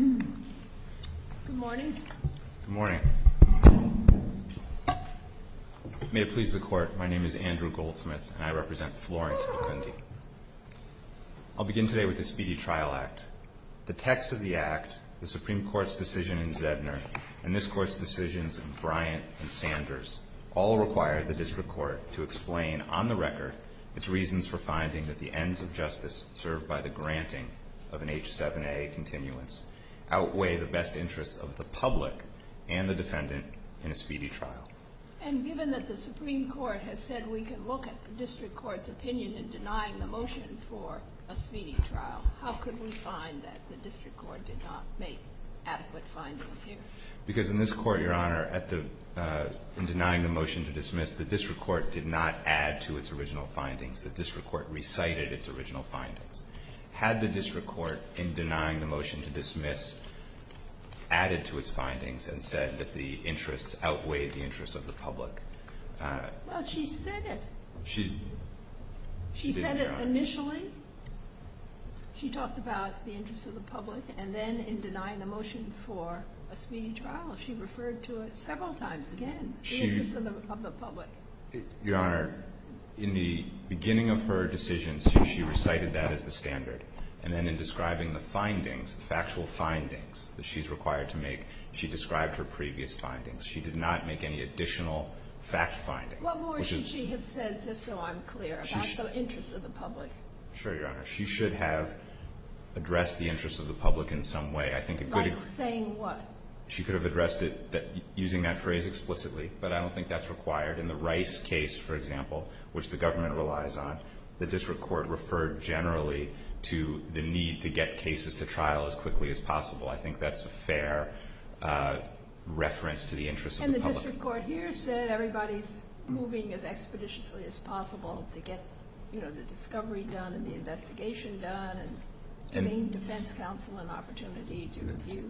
Good morning, may it please the Court, my name is Andrew Goldsmith and I represent Florence, Kentucky. I'll begin today with the Speedy Trial Act. The text of the Act, the Supreme Court's decision in Zedner, and this Court's decisions in Bryant and Sanders, all require the District Court to explain, on the record, its reasons for finding that the ends of justice served by the granting of an H-7A continuance outweigh the best interests of the public and the defendant in a speedy trial. And given that the Supreme Court has said we can look at the District Court's opinion in denying the motion for a speedy trial, how could we find that the District Court did not make adequate findings here? Because in this Court, Your Honor, in denying the motion to dismiss, the District Court did not add to its original findings. The District Court recited its original findings. Had the District Court, in denying the motion to dismiss, added to its findings and said that the interests outweighed the interests of the public? No, she said it. She said it initially. She talked about the interests of the public, and then in denying the motion for a speedy trial, she referred to it several times again, the interests of the public. Your Honor, in the beginning of her decisions, she recited that as the standard. And then in describing the findings, the factual findings that she's required to make, she described her previous findings. She did not make any additional fact findings. What more should she have said, just so I'm clear, about the interests of the public? Sure, Your Honor. She should have addressed the interests of the public in some way. Like saying what? She could have addressed it using that phrase explicitly, but I don't think that's required. In the Rice case, for example, which the government relies on, the District Court referred generally to the need to get cases to trial as quickly as possible. I think that's a fair reference to the interests of the public. The District Court here said everybody's moving as expeditiously as possible to get, you know, the discovery done and the investigation done, and getting the defense counsel an opportunity to review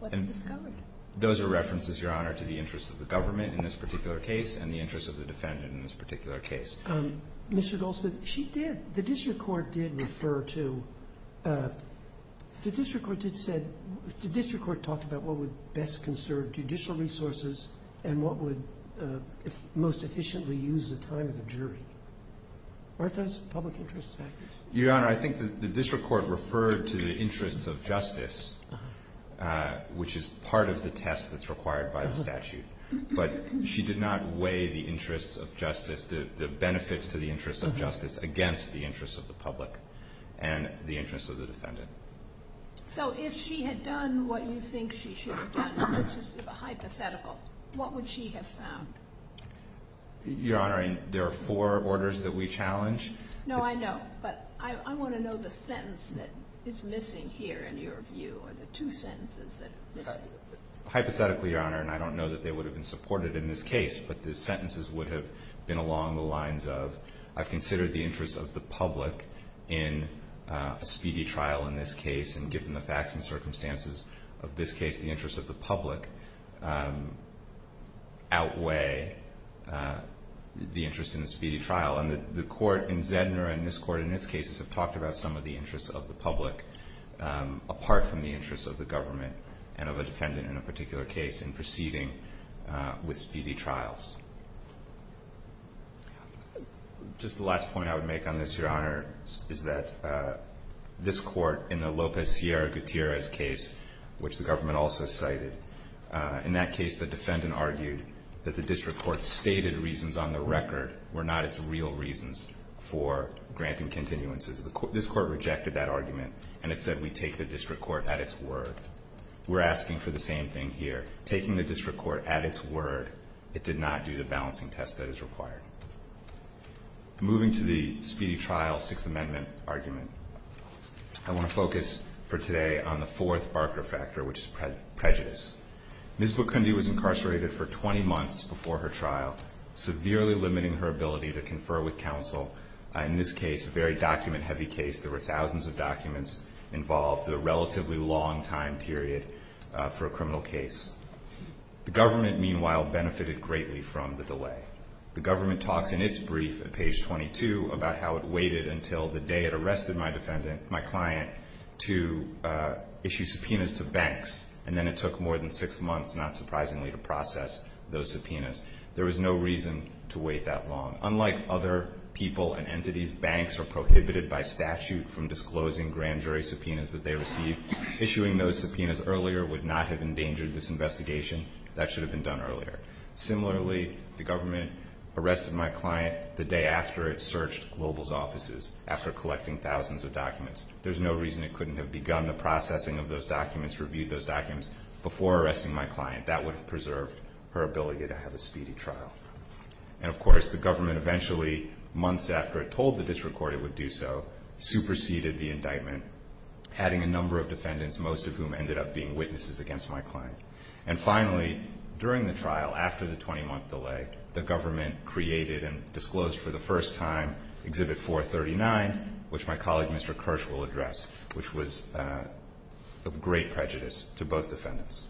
what they discovered. Those are references, Your Honor, to the interests of the government in this particular case and the interests of the defendant in this particular case. Mr. Goldstein, she did. The District Court did refer to – the District Court did say – the District Court talked about what would best conserve judicial resources and what would most efficiently use the time of the jury. Aren't those public interest factors? Your Honor, I think the District Court referred to the interests of justice, which is part of the test that's required by the statute. But she did not weigh the interests of justice, the benefits to the interests of justice, against the interests of the public and the interests of the defendant. So if she had done what you think she should have done, which is hypothetical, what would she have found? Your Honor, there are four orders that we challenge. No, I know, but I want to know the sentence that is missing here in your view, the two sentences. Hypothetically, Your Honor, and I don't know that they would have been supported in this case, but the sentences would have been along the lines of, I've considered the interests of the public in a speedy trial in this case, and given the facts and circumstances of this case, the interests of the public outweigh the interest in a speedy trial. And the court in Zedner and this court in this case have talked about some of the interests of the public apart from the interests of the government and of a defendant in a particular case in proceeding with speedy trials. Just the last point I would make on this, Your Honor, is that this court in the Lopez Sierra Gutierrez case, which the government also cited, in that case the defendant argued that the district court's stated reasons on the record were not its real reasons for granting continuances. This court rejected that argument, and it said we take the district court at its word. We're asking for the same thing here. Taking the district court at its word, it did not do the balancing test that is required. Moving to the speedy trial Sixth Amendment argument, I want to focus for today on the fourth Barker factor, which is prejudice. Ms. Bukundi was incarcerated for 20 months before her trial, severely limiting her ability to confer with counsel. In this case, a very document-heavy case. There were thousands of documents involved in a relatively long time period for a criminal case. The government, meanwhile, benefited greatly from the delay. The government talks in its brief at page 22 about how it waited until the day it arrested my client to issue subpoenas to banks, and then it took more than six months, not surprisingly, to process those subpoenas. There was no reason to wait that long. Unlike other people and entities, banks are prohibited by statute from disclosing grand jury subpoenas that they receive. Issuing those subpoenas earlier would not have endangered this investigation. That should have been done earlier. Similarly, the government arrested my client the day after it searched Global's offices, after collecting thousands of documents. There's no reason it couldn't have begun the processing of those documents, reviewed those documents, before arresting my client. That would have preserved her ability to have a speedy trial. And, of course, the government eventually, months after it told the district court it would do so, superseded the indictment, adding a number of defendants, most of whom ended up being witnesses against my client. And, finally, during the trial, after the 20-month delay, the government created and disclosed for the first time Exhibit 439, which my colleague Mr. Kirsch will address, which was of great prejudice to both defendants.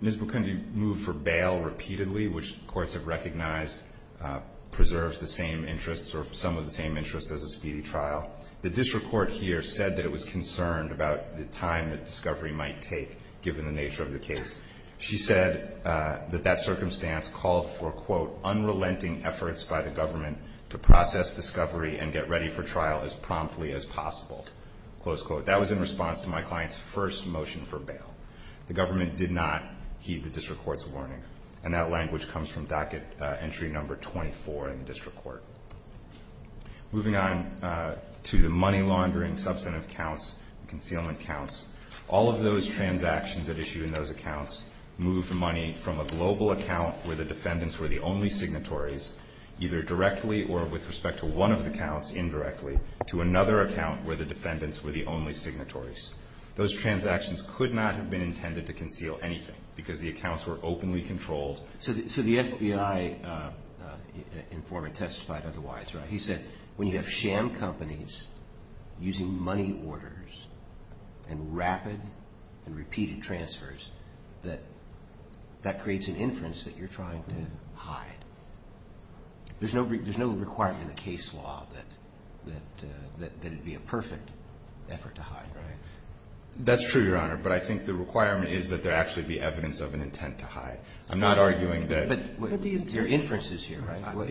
Ms. Bukundi moved for bail repeatedly, which courts have recognized preserves the same interests or some of the same interests as a speedy trial. The district court here said that it was concerned about the time that discovery might take, given the nature of the case. She said that that circumstance called for, quote, unrelenting efforts by the government to process discovery and get ready for trial as promptly as possible, close quote. That was in response to my client's first motion for bail. The government did not heed the district court's warning. And that language comes from docket entry number 24 in the district court. Moving on to the money laundering substantive counts, concealment counts, all of those transactions that issued in those accounts moved money from a global account where the defendants were the only signatories, either directly or with respect to one of the counts indirectly, to another account where the defendants were the only signatories. Those transactions could not have been intended to conceal anything because the accounts were openly controlled. So the FBI informant testified otherwise, right? He said when you have sham companies using money orders and rapid and repeated transfers, that that creates an inference that you're trying to hide. There's no requirement in the case law that it would be a perfect effort to hide, right? That's true, Your Honor, but I think the requirement is that there actually be evidence of an intent to hide. I'm not arguing that... But there are inferences here, right?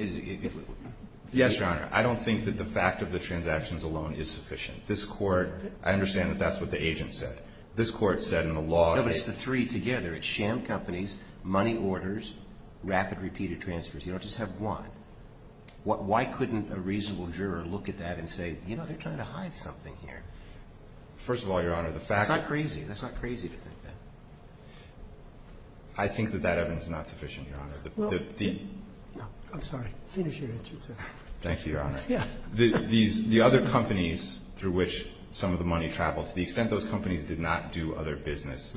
Yes, Your Honor. I don't think that the fact of the transactions alone is sufficient. This court, I understand that that's what the agent said. This court said in the law... No, but it's the three together. It's sham companies, money orders, rapid repeated transfers. You don't just have one. Why couldn't a reasonable juror look at that and say, you know, they're trying to hide something here? First of all, Your Honor, the fact... That's not crazy. That's not crazy to think that. I think that that evidence is not sufficient, Your Honor. I'm sorry. Finish your answer, sir. Thank you, Your Honor. The other companies through which some of the money traveled, to the extent those companies did not do other business,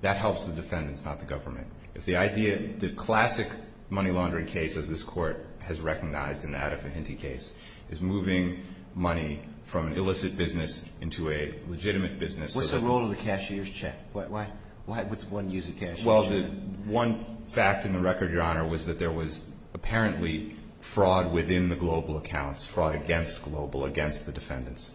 that helps the defendants, not the government. The idea, the classic money laundering case that this court has recognized, and that of the Hinty case, is moving money from an illicit business into a legitimate business. What's the role of the cashier's check? What's one use of cash? Well, the one fact in the record, Your Honor, was that there was apparently fraud within the global accounts, fraud against global, against the defendants.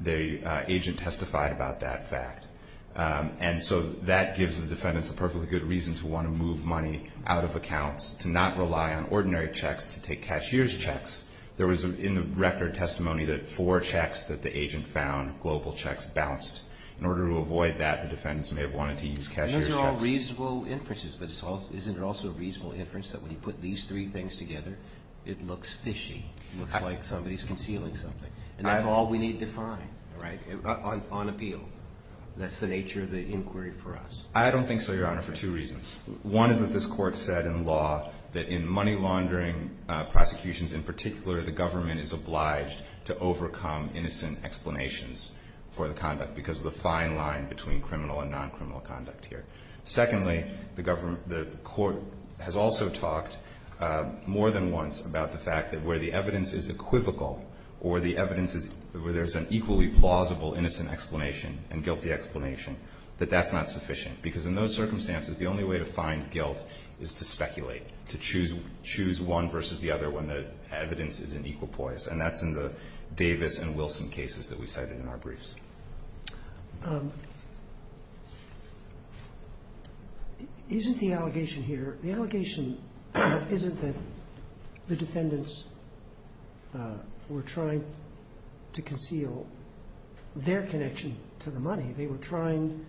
The agent testified about that fact. And so that gives the defendants a perfectly good reason to want to move money out of accounts, to not rely on ordinary checks, to take cashier's checks. There was in the record testimony that four checks that the agent found, global checks, bounced. In order to avoid that, the defendants may have wanted to use cashier's checks. And those are all reasonable inferences. But isn't it also a reasonable inference that when you put these three things together, it looks fishy? It looks like somebody's concealing something. And that's all we need to find, right, on appeal. That's the nature of the inquiry for us. I don't think so, Your Honor, for two reasons. One is that this court said in law that in money laundering prosecutions in particular, the government is obliged to overcome innocent explanations for the conduct because of the fine line between criminal and non-criminal conduct here. Secondly, the court has also talked more than once about the fact that where the evidence is equivocal or where there's an equally plausible innocent explanation and guilty explanation, that that's not sufficient. Because in those circumstances, the only way to find guilt is to speculate, to choose one versus the other when the evidence is in equal poise. And that's in the Davis and Wilson cases that we cited in our briefs. Isn't the allegation here, the allegation isn't that the defendants were trying to conceal their connection to the money. They were trying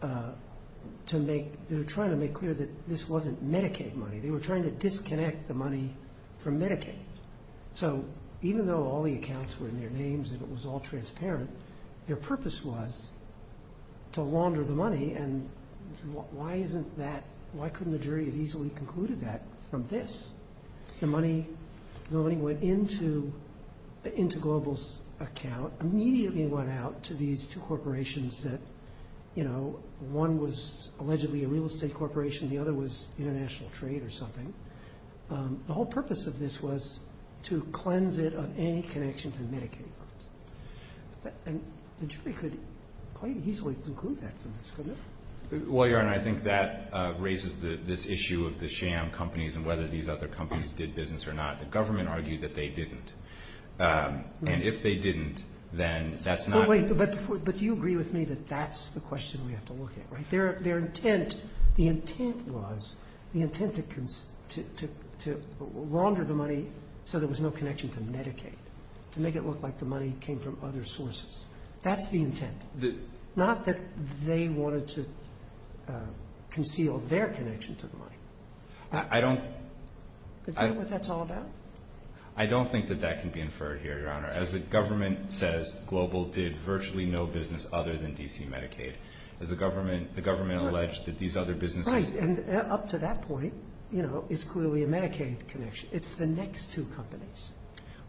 to make clear that this wasn't Medicaid money. They were trying to disconnect the money from Medicaid. So even though all the accounts were in their names and it was all transparent, their purpose was to launder the money and why couldn't the jury have easily concluded that from this? The money went into Global's account, immediately went out to these two corporations that, you know, one was allegedly a real estate corporation and the other was international trade or something. The whole purpose of this was to cleanse it of any connection to Medicaid funds. And the jury could quite easily conclude that from this, couldn't it? Well, Your Honor, I think that raises this issue of the sham companies and whether these other companies did business or not. The government argued that they didn't. And if they didn't, then that's not... But you agree with me that that's the question we have to look at, right? Their intent, the intent was, the intent to launder the money so there was no connection to Medicaid, to make it look like the money came from other sources. That's the intent. Not that they wanted to conceal their connection to the money. I don't... Is that what that's all about? I don't think that that can be inferred here, Your Honor. As the government says, Global did virtually no business other than DC Medicaid. The government alleged that these other businesses... Right, and up to that point, you know, it's clearly a Medicaid connection. It's the next two companies.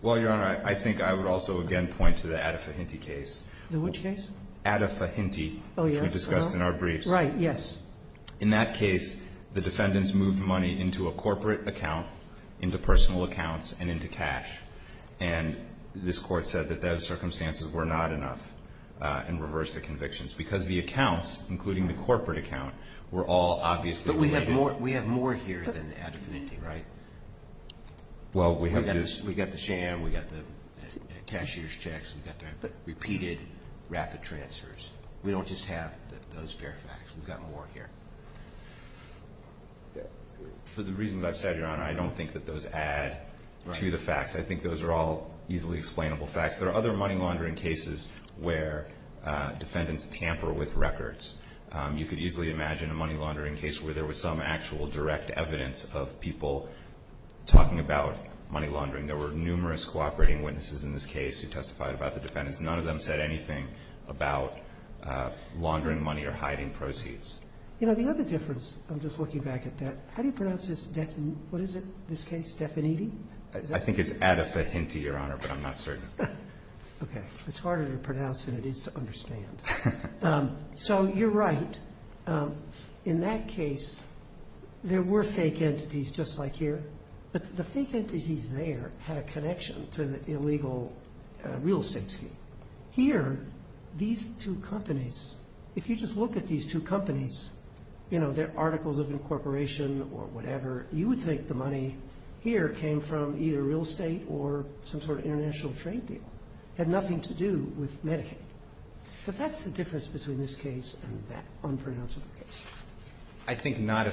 Well, Your Honor, I think I would also again point to the Addafahinty case. Which case? Addafahinty, which we discussed in our briefs. Right, yes. In that case, the defendants moved money into a corporate account, into personal accounts, and into cash. And this court said that those circumstances were not enough in reverse of convictions. Because the accounts, including the corporate account, were all obviously... But we have more here than Addafahinty, right? Well, we have this... We've got the sham, we've got the cashier's checks, we've got the repeated rapid transfers. We don't just have those bare facts. We've got more here. For the reasons I've said, Your Honor, I don't think that those add to the facts. I think those are all easily explainable facts. There are other money laundering cases where defendants tamper with records. You could easily imagine a money laundering case where there was some actual direct evidence of people talking about money laundering. There were numerous cooperating witnesses in this case who testified about the defendants. None of them said anything about laundering money or hiding proceeds. You know, the other difference, I'm just looking back at that, how do you pronounce this? What is it, this case? I think it's Addafahinty, Your Honor, but I'm not certain. Okay. It's harder to pronounce than it is to understand. So you're right. In that case, there were fake entities just like here. The fake entities there had a connection to the illegal real estate scheme. Here, these two companies, if you just look at these two companies, you know, their articles of incorporation or whatever, you would think the money here came from either real estate or some sort of international trade deal. It had nothing to do with Medicaid. But that's the difference between this case and that unpronounceable case. I think none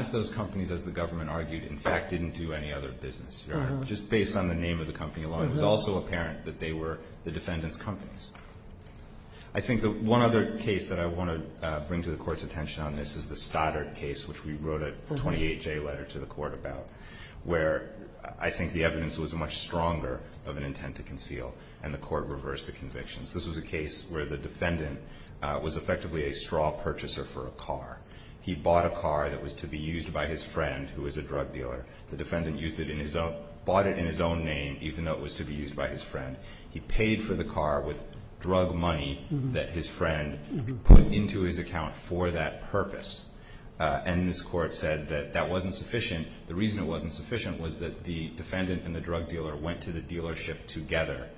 of those companies, as the government argued, in fact, didn't do any other business. Just based on the name of the company alone, it was also apparent that they were the defendants' companies. I think the one other case that I want to bring to the Court's attention on this is the Stoddard case, which we wrote a 28-J letter to the Court about, where I think the evidence was much stronger of an intent to conceal, and the Court reversed the convictions. This was a case where the defendant was effectively a straw purchaser for a car. He bought a car that was to be used by his friend, who was a drug dealer. The defendant bought it in his own name, even though it was to be used by his friend. He paid for the car with drug money that his friend put into his account for that purpose. And this Court said that that wasn't sufficient. The reason it wasn't sufficient was that the defendant and the drug dealer went to the dealership together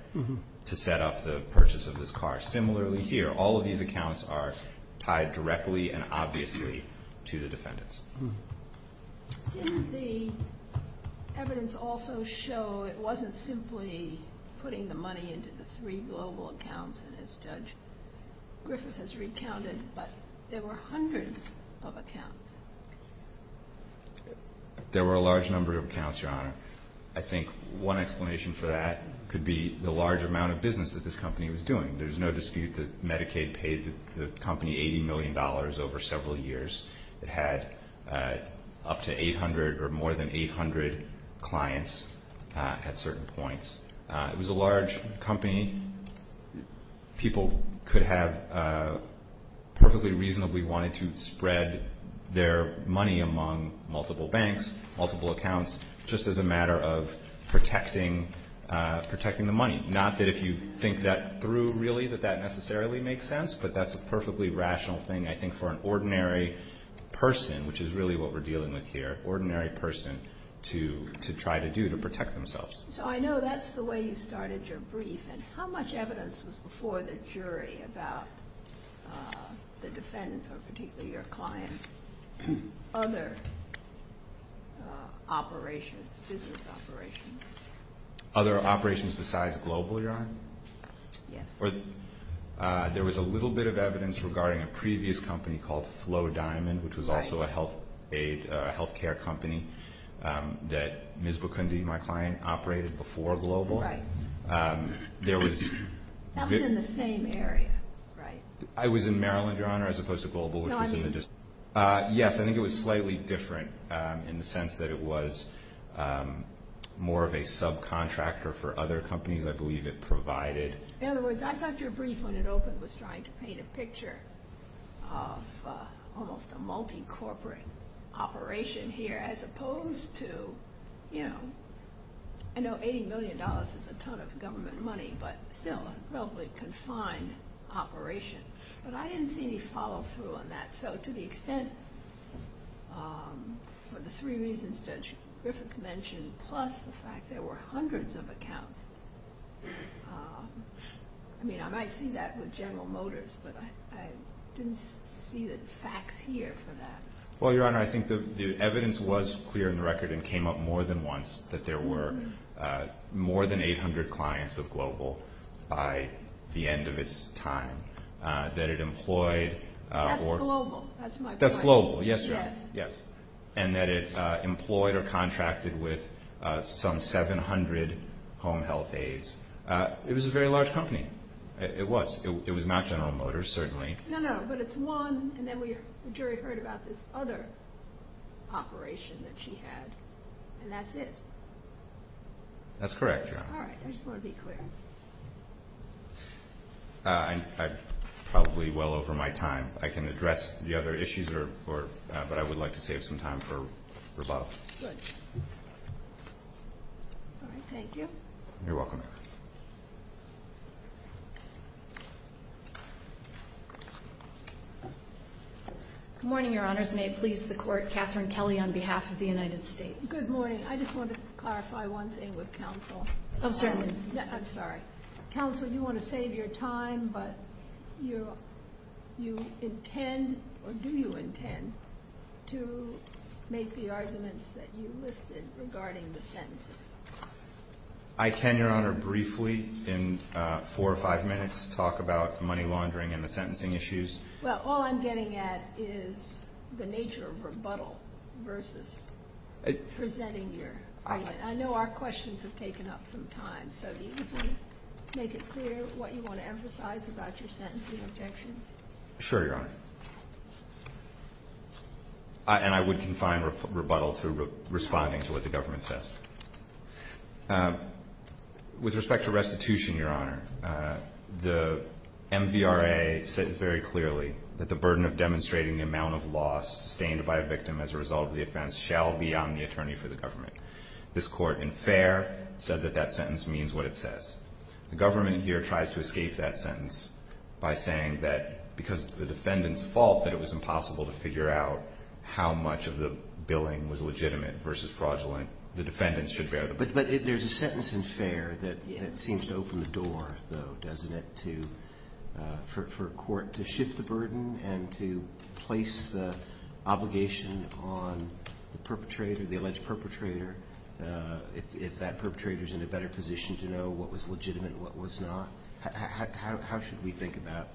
to set up the purchase of this car. Similarly here, all of these accounts are tied directly and obviously to the defendants. Did the evidence also show it wasn't simply putting the money into the three global accounts, as Judge Griffith has recounted, but there were hundreds of accounts? There were a large number of accounts, Your Honor. I think one explanation for that could be the large amount of business that this company was doing. There's no dispute that Medicaid paid the company $80 million over several years. It had up to 800 or more than 800 clients at certain points. It was a large company. People could have perfectly reasonably wanted to spread their money among multiple banks, multiple accounts, just as a matter of protecting the money. Not that if you think that through, really, that that necessarily makes sense, but that's a perfectly rational thing, I think, for an ordinary person, which is really what we're dealing with here, an ordinary person to try to do to protect themselves. So I know that's the way you started your brief. And how much evidence was before the jury about the defendants, or particularly your clients, other operations, business operations? Other operations besides Global, Your Honor? Yes. There was a little bit of evidence regarding a previous company called Flow Diamond, which was also a health care company that Ms. Bukundi, my client, operated before Global. Right. That's in the same area, right? I was in Maryland, Your Honor, as opposed to Global. No, I mean... I believe it provided... In other words, I thought your brief, when it opened, was trying to paint a picture of almost a multi-corporate operation here, as opposed to, you know, I know $80 million is a ton of government money, but still a relatively confined operation. But I didn't see any follow-through on that. So to the extent, for the three reasons that Griffith mentioned, plus the fact there were hundreds of accounts, I mean, I might see that with General Motors, but I didn't see the facts here for that. Well, Your Honor, I think the evidence was clear in the record and came up more than once, that there were more than 800 clients with Global by the end of its time. That it employed... Global, that's my point. That's Global, yes, Your Honor. Yes. And that it employed or contracted with some 700 home health aides. It was a very large company. It was. It was not General Motors, certainly. No, no, but it's one, and then the jury heard about this other operation that she had, and that's it. That's correct, Your Honor. All right. I just want to be clear. I'm probably well over my time. I can address the other issues, but I would like to save some time for rebuttal. Good. All right. Thank you. You're welcome. Good morning, Your Honors. May it please the Court, Katherine Kelly on behalf of the United States. Good morning. I just wanted to clarify one thing with counsel. I'm sorry. Counsel, you want to save your time, but you intend or do you intend to make the arguments that you listed regarding the sentencing? I can, Your Honor, briefly in four or five minutes talk about the money laundering and the sentencing issues. Well, all I'm getting at is the nature of rebuttal versus presenting your argument. I know our questions have taken up some time, so do you want to make it clear what you want to emphasize about your sentencing objections? Sure, Your Honor. And I would confine rebuttal to responding to what the government says. With respect to restitution, Your Honor, the MVRA says very clearly that the burden of demonstrating the amount of loss sustained by a victim as a result of the offense shall be on the attorney for the government. This Court, in fair, said that that sentence means what it says. The government here tries to escape that sentence by saying that because it's the defendant's fault that it was impossible to figure out how much of the billing was legitimate versus fraudulent, the defendant should bear the burden. But there's a sentence in fair that seems to open the door, though, doesn't it, for a court to shift the burden and to place the obligation on the perpetrator, the alleged perpetrator, if that perpetrator is in a better position to know what was legitimate and what was not? How should we think about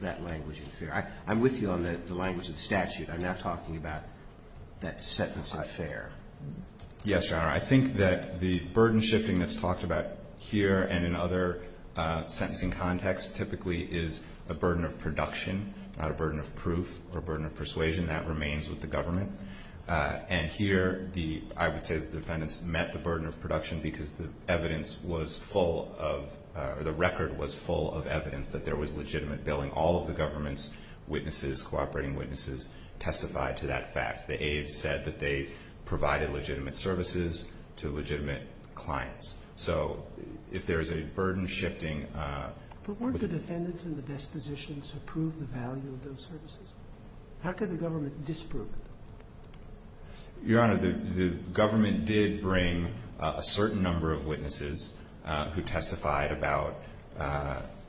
that language in fair? I'm with you on the language of the statute. I'm not talking about that sentence not fair. Yes, Your Honor. I think that the burden shifting that's talked about here and in other sentencing contexts typically is a burden of production, not a burden of proof or burden of persuasion. That remains with the government. And here, I would say the defendants met the burden of production because the evidence was full of, or the record was full of evidence that there was legitimate billing. All of the government's witnesses, cooperating witnesses, testified to that fact. The aides said that they provided legitimate services to legitimate clients. So if there's a burden shifting... But weren't the defendants in the best positions to prove the value of those services? How could the government disprove it? Your Honor, the government did bring a certain number of witnesses who testified about,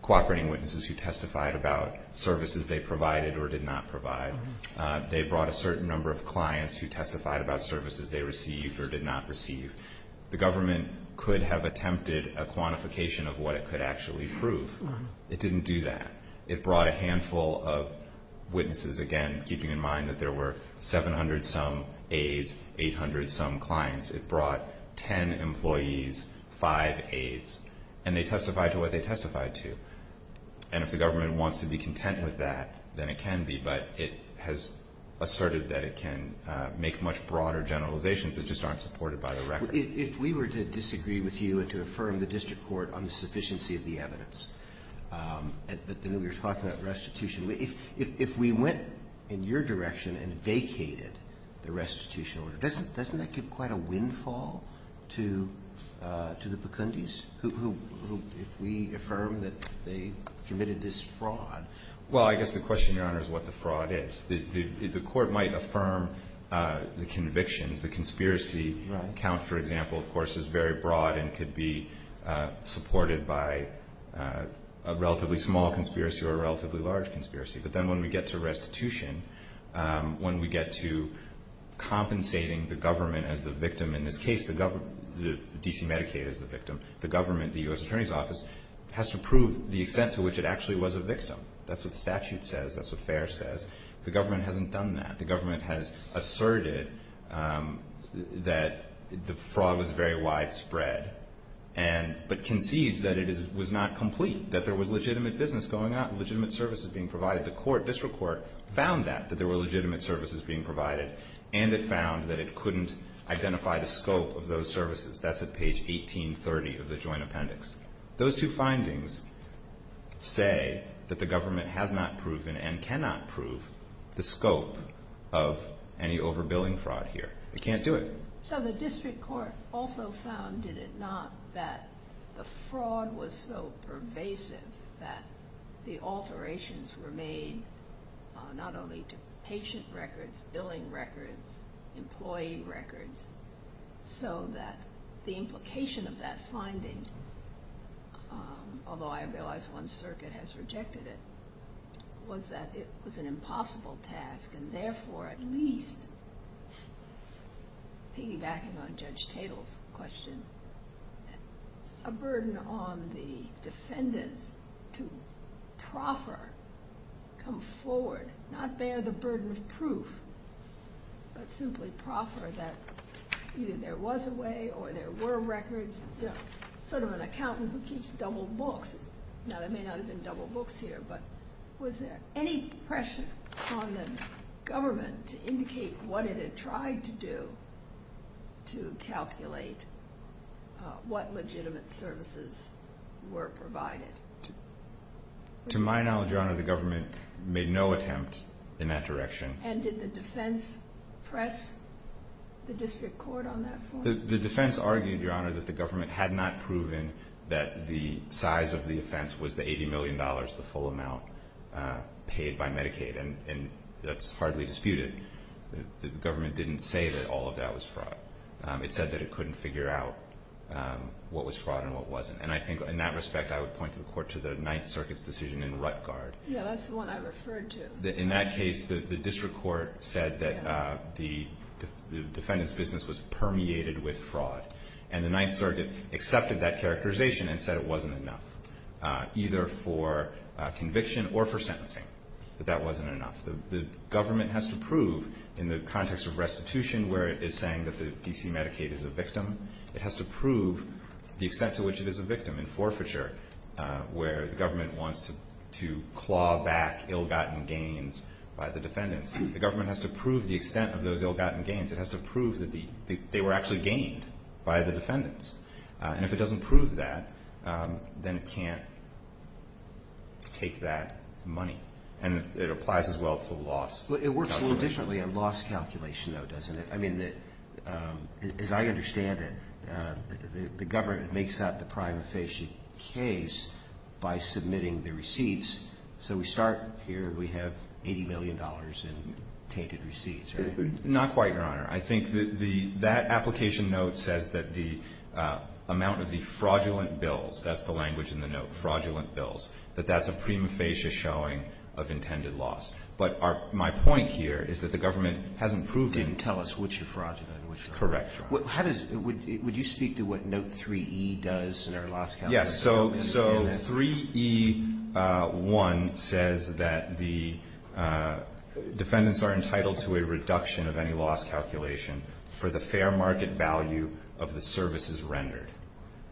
cooperating witnesses who testified about services they provided or did not provide. They brought a certain number of clients who testified about services they received or did not receive. The government could have attempted a quantification of what it could actually prove. It didn't do that. It brought a handful of witnesses, again, keeping in mind that there were 700-some aides, 800-some clients. It brought 10 employees, 5 aides. And they testified to what they testified to. And if the government wants to be content with that, then it can be. But it has asserted that it can make much broader generalizations that just aren't supported by the record. If we were to disagree with you and to affirm the district court on the sufficiency of the evidence, but then we were talking about restitution, if we went in your direction and vacated the restitution order, doesn't that give quite a windfall to the Bukundis who, if we affirm that they committed this fraud? Well, I guess the question, Your Honor, is what the fraud is. The court might affirm the conviction. The conspiracy count, for example, of course, is very broad and could be supported by a relatively small conspiracy or a relatively large conspiracy. But then when we get to restitution, when we get to compensating the government as the victim, in this case the government, the D.C. Medicaid as the victim, the government, the U.S. Attorney's Office, has to prove the extent to which it actually was a victim. That's what statute says. That's what FAIR says. The government hasn't done that. The government has asserted that the fraud was very widespread, but conceded that it was not complete, that there was legitimate business going on, legitimate services being provided. The district court found that, that there were legitimate services being provided, and it found that it couldn't identify the scope of those services. That's at page 1830 of the joint appendix. Those two findings say that the government has not proven and cannot prove the scope of any overbilling fraud here. It can't do it. So the district court also found, did it not, that the fraud was so pervasive that the alterations were made not only to patient records, billing records, employee records, so that the implication of that finding, although I realize one circuit has rejected it, was that it was an impossible task and therefore at least, piggybacking on Judge Tatel's question, a burden on the defendant to proper come forward, not bear the burden of proof, but simply proffer that either there was a way or there were records, sort of an accountant who keeps a double book. Now, there may not have been double books here, but was there any pressure on the government to indicate what it had tried to do to calculate what legitimate services were provided? To my knowledge, Your Honor, the government made no attempt in that direction. And did the defense press the district court on that? The defense argued, Your Honor, that the government had not proven that the size of the offense was the $80 million, the full amount paid by Medicaid, and that's hardly disputed. The government didn't say that all of that was fraud. It said that it couldn't figure out what was fraud and what wasn't. And I think in that respect, I would point the court to the Ninth Circuit's decision in Rutt-Gard. Yeah, that's the one I referred to. In that case, the district court said that the defendant's business was permeated with fraud. And the Ninth Circuit accepted that characterization and said it wasn't enough, either for conviction or for sentencing, that that wasn't enough. The government has to prove in the context of restitution where it is saying that the D.C. Medicaid is a victim, it has to prove the extent to which it is a victim. In forfeiture, where the government wants to claw back ill-gotten gains by the defendants, the government has to prove the extent of those ill-gotten gains. It has to prove that they were actually gained by the defendants. And if it doesn't prove that, then it can't take that money. And it applies as well to loss. It works a little differently on loss calculation, though, doesn't it? I mean, as I understand it, the government makes that the prima facie case by submitting the receipts. So we start here, we have $80 million in tainted receipts. Not quite, Your Honor. I think that application note says that the amount of the fraudulent bills, that's the language in the note, fraudulent bills, that that's a prima facie showing of intended loss. But my point here is that the government hasn't proved it. Didn't tell us which is fraudulent and which is not. Correct. Would you speak to what note 3E does in our loss calculation? Yes. So 3E1 says that the defendants are entitled to a reduction of any loss calculation for the fair market value of the services rendered.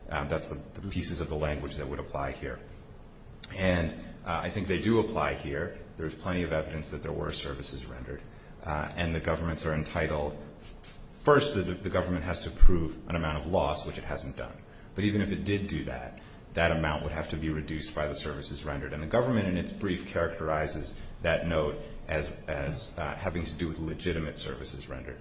That's the pieces of the language that would apply here. And I think they do apply here. There's plenty of evidence that there were services rendered. And the governments are entitled. First, the government has to prove an amount of loss, which it hasn't done. But even if it did do that, that amount would have to be reduced by the services rendered. And the government in its brief characterizes that note as having to do with legitimate services rendered.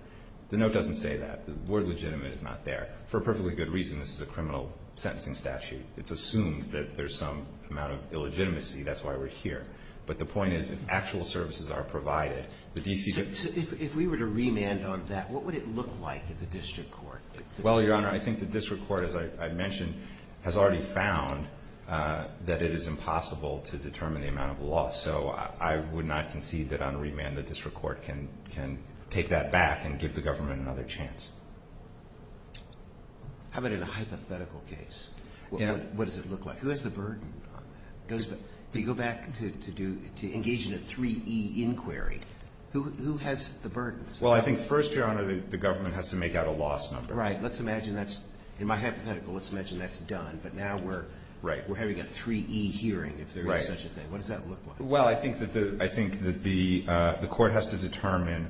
The note doesn't say that. The word legitimate is not there. For a perfectly good reason, this is a criminal sentencing statute. It's assumed that there's some amount of illegitimacy. That's why we're here. But the point is if actual services are provided. If we were to remand on that, what would it look like at the district court? Well, Your Honor, I think the district court, as I mentioned, has already found that it is impossible to determine the amount of loss. So I would not concede that on remand the district court can take that back and give the government another chance. How about in a hypothetical case? What does it look like? Who has the burden? If you go back to engage in a 3E inquiry, who has the burden? Well, I think first, Your Honor, the government has to make out a loss number. Right. In my hypothetical, let's imagine that's done. But now we're having a 3E hearing if there is such a thing. What does that look like? Well, I think that the court has to determine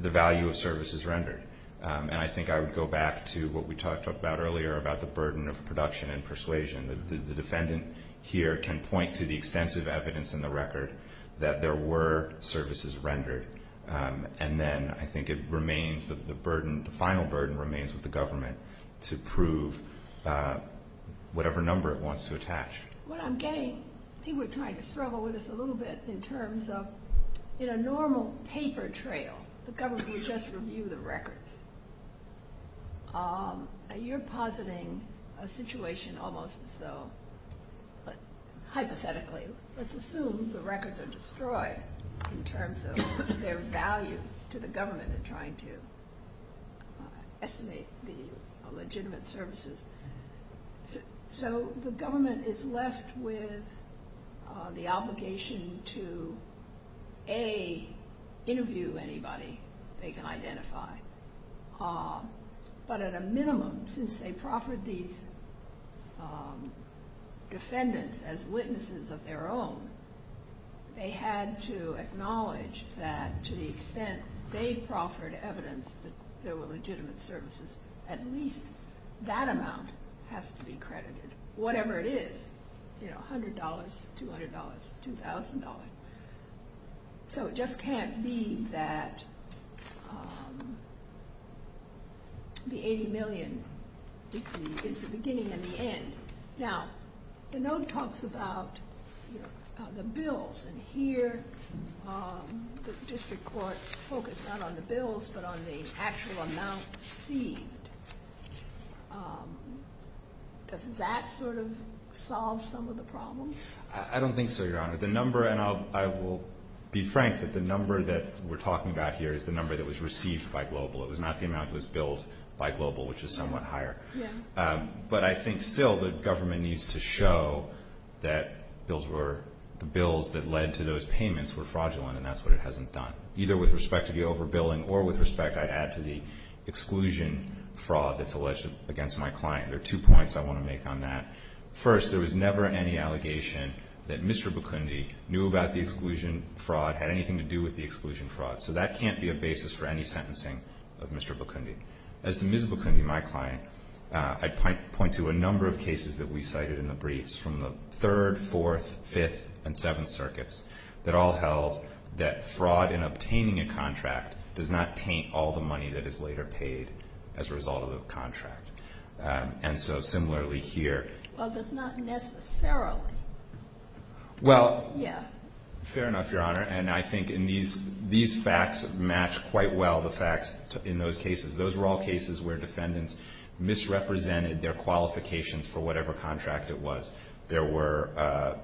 the value of services rendered. And I think I would go back to what we talked about earlier about the burden of production and persuasion. The defendant here can point to the extensive evidence in the record that there were services rendered. And then I think it remains that the final burden remains with the government to prove whatever number it wants to attach. What I'm getting, people are trying to struggle with this a little bit, in terms of in a normal paper trail, the government would just review the records. You're positing a situation almost as though, hypothetically, let's assume the records are destroyed in terms of their value to the government in trying to estimate the legitimate services. So the government is left with the obligation to, A, interview anybody they can identify. But at a minimum, since they proffered these defendants as witnesses of their own, they had to acknowledge that to the extent they proffered evidence that there were legitimate services, at least that amount has to be credited. Whatever it is, $100, $200, $2,000. So it just can't be that the $80 million is the beginning and the end. Now, the note talks about the bills. And here, the district court focused not on the bills but on the actual amount seen. Does that sort of solve some of the problems? I don't think so, Your Honor. The number, and I will be frank, that the number that we're talking about here is the number that was received by Global. It was not the amount that was billed by Global, which is somewhat higher. But I think still the government needs to show that the bills that led to those payments were fraudulent, and that's what it hasn't done, either with respect to the overbilling or with respect, I'd add, to the exclusion fraud that's alleged against my client. There are two points I want to make on that. First, there was never any allegation that Mr. Bakundi knew about the exclusion fraud, had anything to do with the exclusion fraud. So that can't be a basis for any sentencing of Mr. Bakundi. As to Ms. Bakundi, my client, I'd point to a number of cases that we cited in the briefs, from the Third, Fourth, Fifth, and Seventh Circuits, that all held that fraud in obtaining a contract does not paint all the money that is later paid as a result of the contract. And so similarly here. Well, but not necessarily. Well, fair enough, Your Honor. And I think these facts match quite well the facts in those cases. Those were all cases where defendants misrepresented their qualifications for whatever contract it was. There were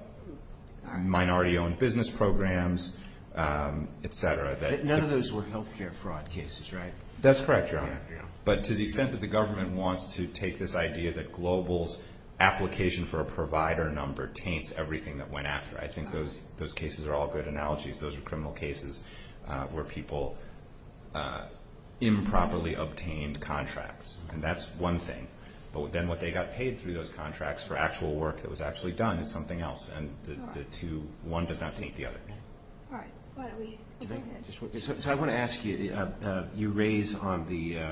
minority-owned business programs, et cetera. None of those were health care fraud cases, right? That's correct, Your Honor. But to the extent that the government wants to take this idea that Global's application for a provider number taints everything that went after, I think those cases are all great analogies. Those are criminal cases where people improperly obtained contracts, and that's one thing. But then what they got paid through those contracts for actual work that was actually done is something else, and one does not taint the other. All right. So I want to ask you, you raised on the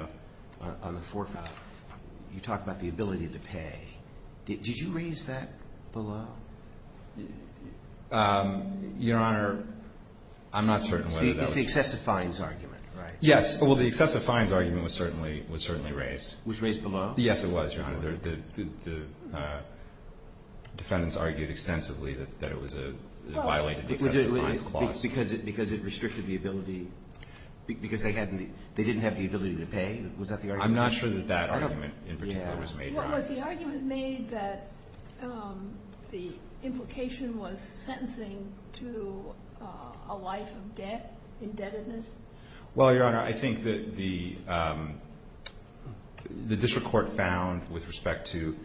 forefront, you talked about the ability to pay. Did you raise that below? Your Honor, I'm not certain whether that was. It's the excessive fines argument, right? Yes. Well, the excessive fines argument was certainly raised. Was raised below? Yes, it was, Your Honor. The defendants argued extensively that it violated the excessive fines clause. Because it restricted the ability? Because they didn't have the ability to pay? Was that the argument? I'm not sure that that argument in particular was made. Was the argument made that the implication was sentencing to a life of debt, indebtedness? Well, Your Honor, I think that the district court found with respect to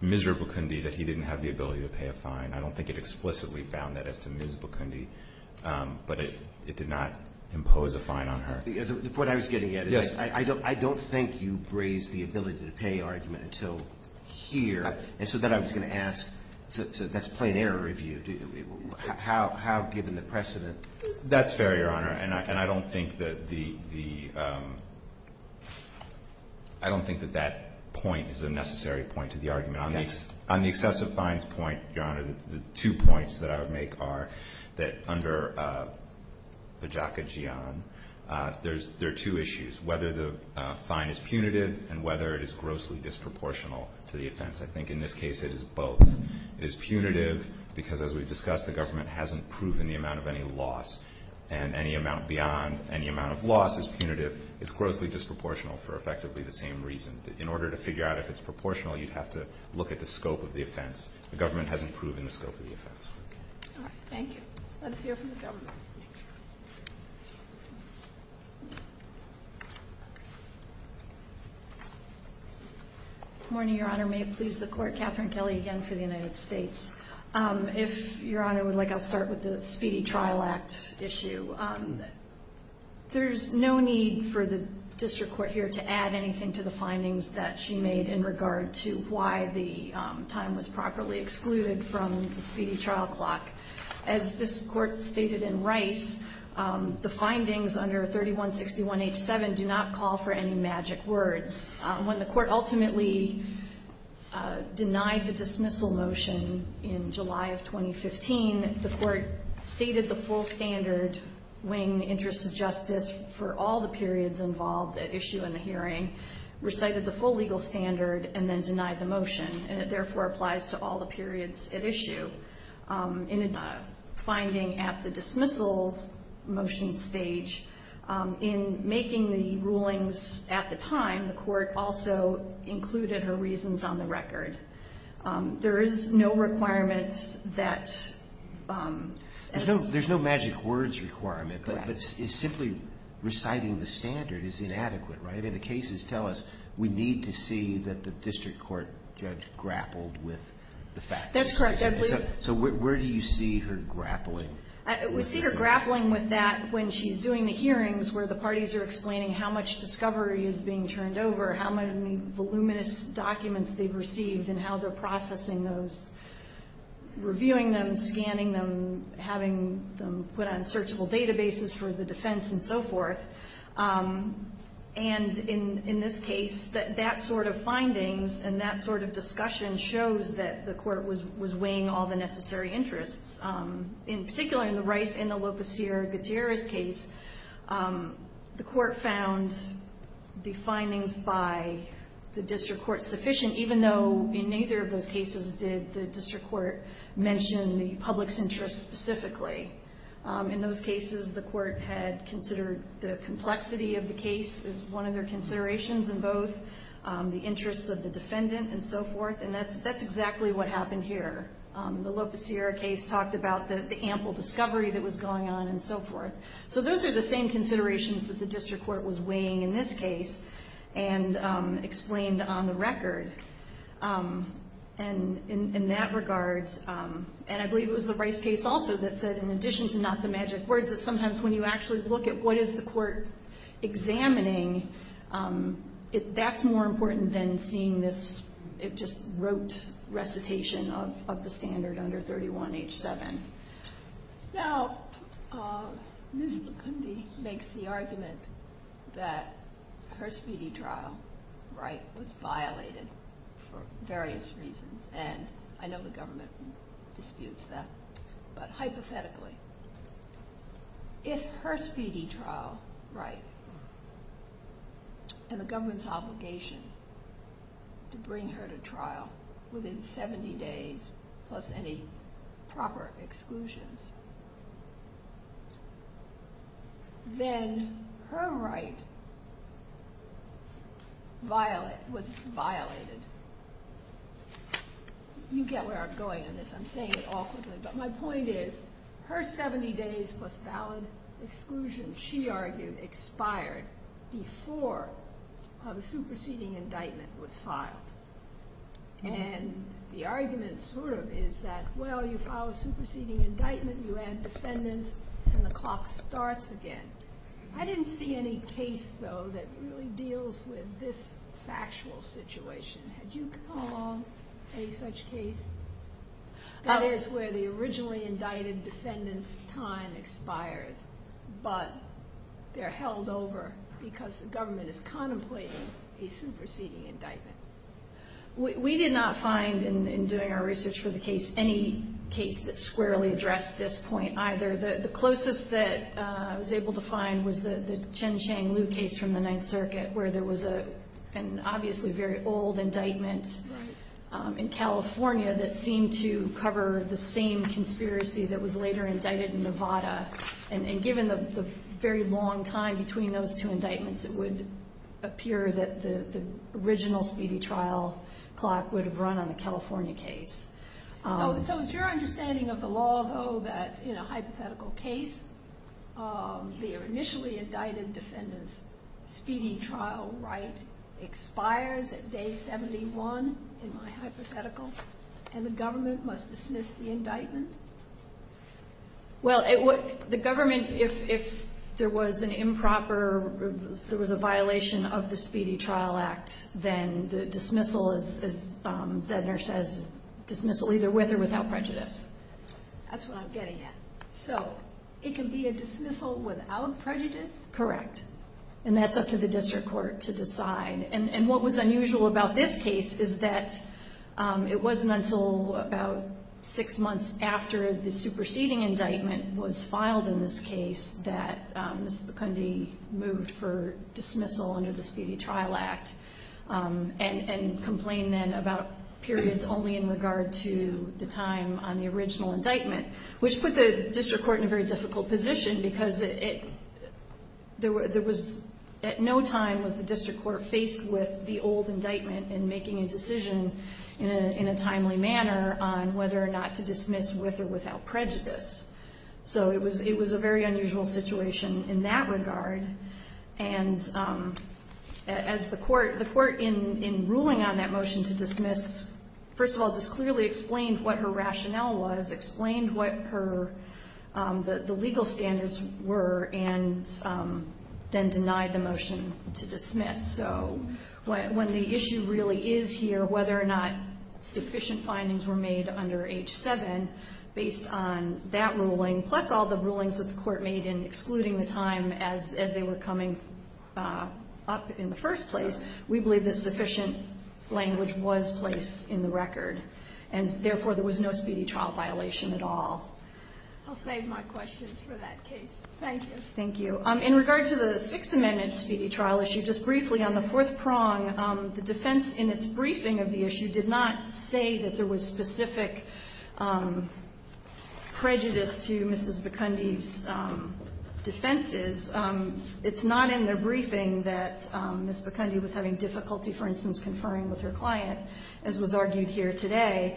Ms. Bukundi that he didn't have the ability to pay a fine. I don't think it explicitly found that as to Ms. Bukundi, but it did not impose a fine on her. The point I was getting at is I don't think you raised the ability to pay argument until here. And so then I was going to ask, so that's plain error. How, given the precedent? That's fair, Your Honor. And I don't think that the – I don't think that that point is a necessary point to the argument. On the excessive fines point, Your Honor, the two points that I would make are that under Bajaka-Gion, there are two issues. Whether the fine is punitive and whether it is grossly disproportional to the offense. I think in this case it is both. It is punitive because, as we've discussed, the government hasn't proven the amount of any loss. And any amount beyond any amount of loss is punitive. It's grossly disproportional for effectively the same reason. In order to figure out if it's proportional, you'd have to look at the scope of the offense. The government hasn't proven the scope of the offense. Thank you. Let's hear from the government. Good morning, Your Honor. May it please the Court, Catherine Kelly again for the United States. If Your Honor would like, I'll start with the Speedy Trial Act issue. There's no need for the district court here to add anything to the findings that she made in regard to why the time was properly excluded from the Speedy Trial Clock. As this Court stated in Rice, the findings under 3161H7 do not call for any magic words. When the Court ultimately denied the dismissal motion in July of 2015, the Court stated the full standard, weighing the interest of justice for all the periods involved at issue in the hearing, recited the full legal standard, and then denied the motion. And it therefore applies to all the periods at issue. In the finding at the dismissal motion stage, in making the rulings at the time, the Court also included her reasons on the record. There is no requirement that... There's no magic words requirement, but simply reciting the standard is inadequate, right? The cases tell us we need to see that the district court judge grappled with the facts. That's correct, absolutely. So where do you see her grappling? We see her grappling with that when she's doing the hearings where the parties are explaining how much discovery is being turned over, how many voluminous documents they've received, and how they're processing those, reviewing them, scanning them, having them put on searchable databases for the defense, and so forth. And in this case, that sort of finding and that sort of discussion shows that the Court was weighing all the necessary interests. In particular, in the right, in the Lopez-Sierra Gutierrez case, the Court found the findings by the district court sufficient, even though in neither of those cases did the district court mention the public's interests specifically. In those cases, the Court had considered the complexity of the case as one of their considerations in both, the interests of the defendant and so forth, and that's exactly what happened here. The Lopez-Sierra case talked about the ample discovery that was going on and so forth. So those are the same considerations that the district court was weighing in this case and explained on the record. And in that regard, and I believe it was the Rice case also that said, in addition to not the magic word, that sometimes when you actually look at what is the Court examining, that's more important than seeing this, it just wrote recitation of the standard under 31H7. Now, Ms. McCombie makes the argument that her speedy trial right was violated for various reasons, and I know the government disputes that, but hypothetically, if her speedy trial right and the government's obligation to bring her to trial within 70 days plus any proper exclusions, then her right was violated. You get where I'm going in this. I'm saying it all at once, but my point is her 70 days plus valid exclusions, she argued, expired before a superseding indictment was filed. And the argument sort of is that, well, you file a superseding indictment, you add defendants, and the clock starts again. I didn't see any case, though, that really deals with this factual situation. Had you come along for any such case? That is where the originally indicted defendant's time expires, but they're held over because the government is contemplating a superseding indictment. We did not find, in doing our research for the case, any case that squarely addressed this point either. The closest that I was able to find was the Chen Chang Liu case from the Ninth Circuit, where there was an obviously very old indictment in California that seemed to cover the same conspiracy that was later indicted in Nevada. And given the very long time between those two indictments, it would appear that the original speedy trial clock would have run on a California case. So it's your understanding of the law, though, that in a hypothetical case, the initially indicted defendant's speedy trial right expires at day 71, in my hypothetical, and the government must dismiss the indictment? Well, the government, if there was an improper, if there was a violation of the Speedy Trial Act, then the dismissal, as Zedner says, dismissal either with or without prejudice. That's what I'm getting at. So, it can be a dismissal without prejudice? Correct. And that's up to the district court to decide. And what was unusual about this case is that it wasn't until about six months after the superseding indictment was filed in this case that this could be moved for dismissal under the Speedy Trial Act and complained then about periods only in regard to the time on the original indictment, which put the district court in a very difficult position because it, there was at no time was the district court faced with the old indictment and making a decision in a timely manner on whether or not to dismiss with or without prejudice. So it was a very unusual situation in that regard. And as the court, the court in ruling on that motion to dismiss, first of all, this clearly explained what her rationale was, explained what her, the legal standards were, and then denied the motion to dismiss. So, when the issue really is here, whether or not sufficient findings were made under H-7, based on that ruling, plus all the rulings that the court made in excluding the time as they were coming up in the first place, we believe that sufficient language was placed in the record. And, therefore, there was no speedy trial violation at all. I'll save my questions for that case. Thank you. Thank you. In regard to the Sixth Amendment speedy trial issue, just briefly, on the fourth prong, the defense in its briefing of the issue did not say that there was specific prejudice to Mrs. Bikundi's defenses. It's not in the briefing that Mrs. Bikundi was having difficulty, for instance, conferring with her client, as was argued here today.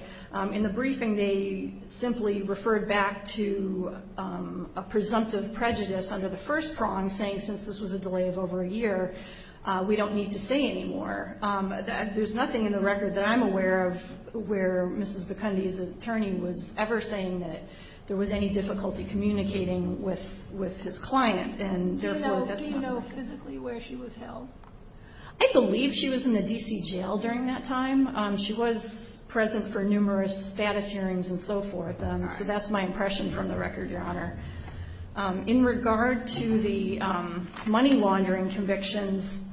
In the briefing, they simply referred back to a presumptive prejudice under the first prong, saying, since this was a delay of over a year, we don't need to stay anymore. There's nothing in the record that I'm aware of where Mrs. Bikundi's attorney was ever saying that there was any difficulty communicating with his client. Did she know physically where she was held? I believe she was in the D.C. jail during that time. She was present for numerous status hearings and so forth. That's my impression from the record, Your Honor. In regard to the money laundering convictions,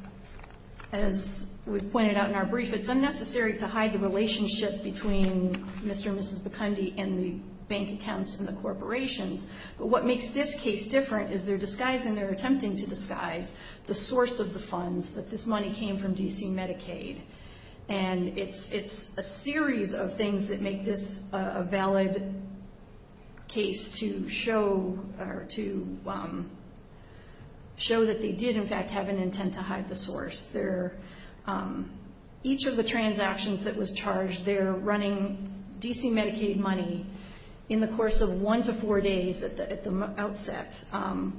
as was pointed out in our brief, it's unnecessary to hide the relationship between Mr. and Mrs. Bikundi and the bank accounts and the corporations. But what makes this case different is they're disguising, they're attempting to disguise, the source of the funds, that this money came from D.C. Medicaid. And it's a series of things that make this a valid case to show that they did, in fact, have an intent to hide the source. Each of the transactions that was charged, they're running D.C. Medicaid money in the course of one to four days at the outset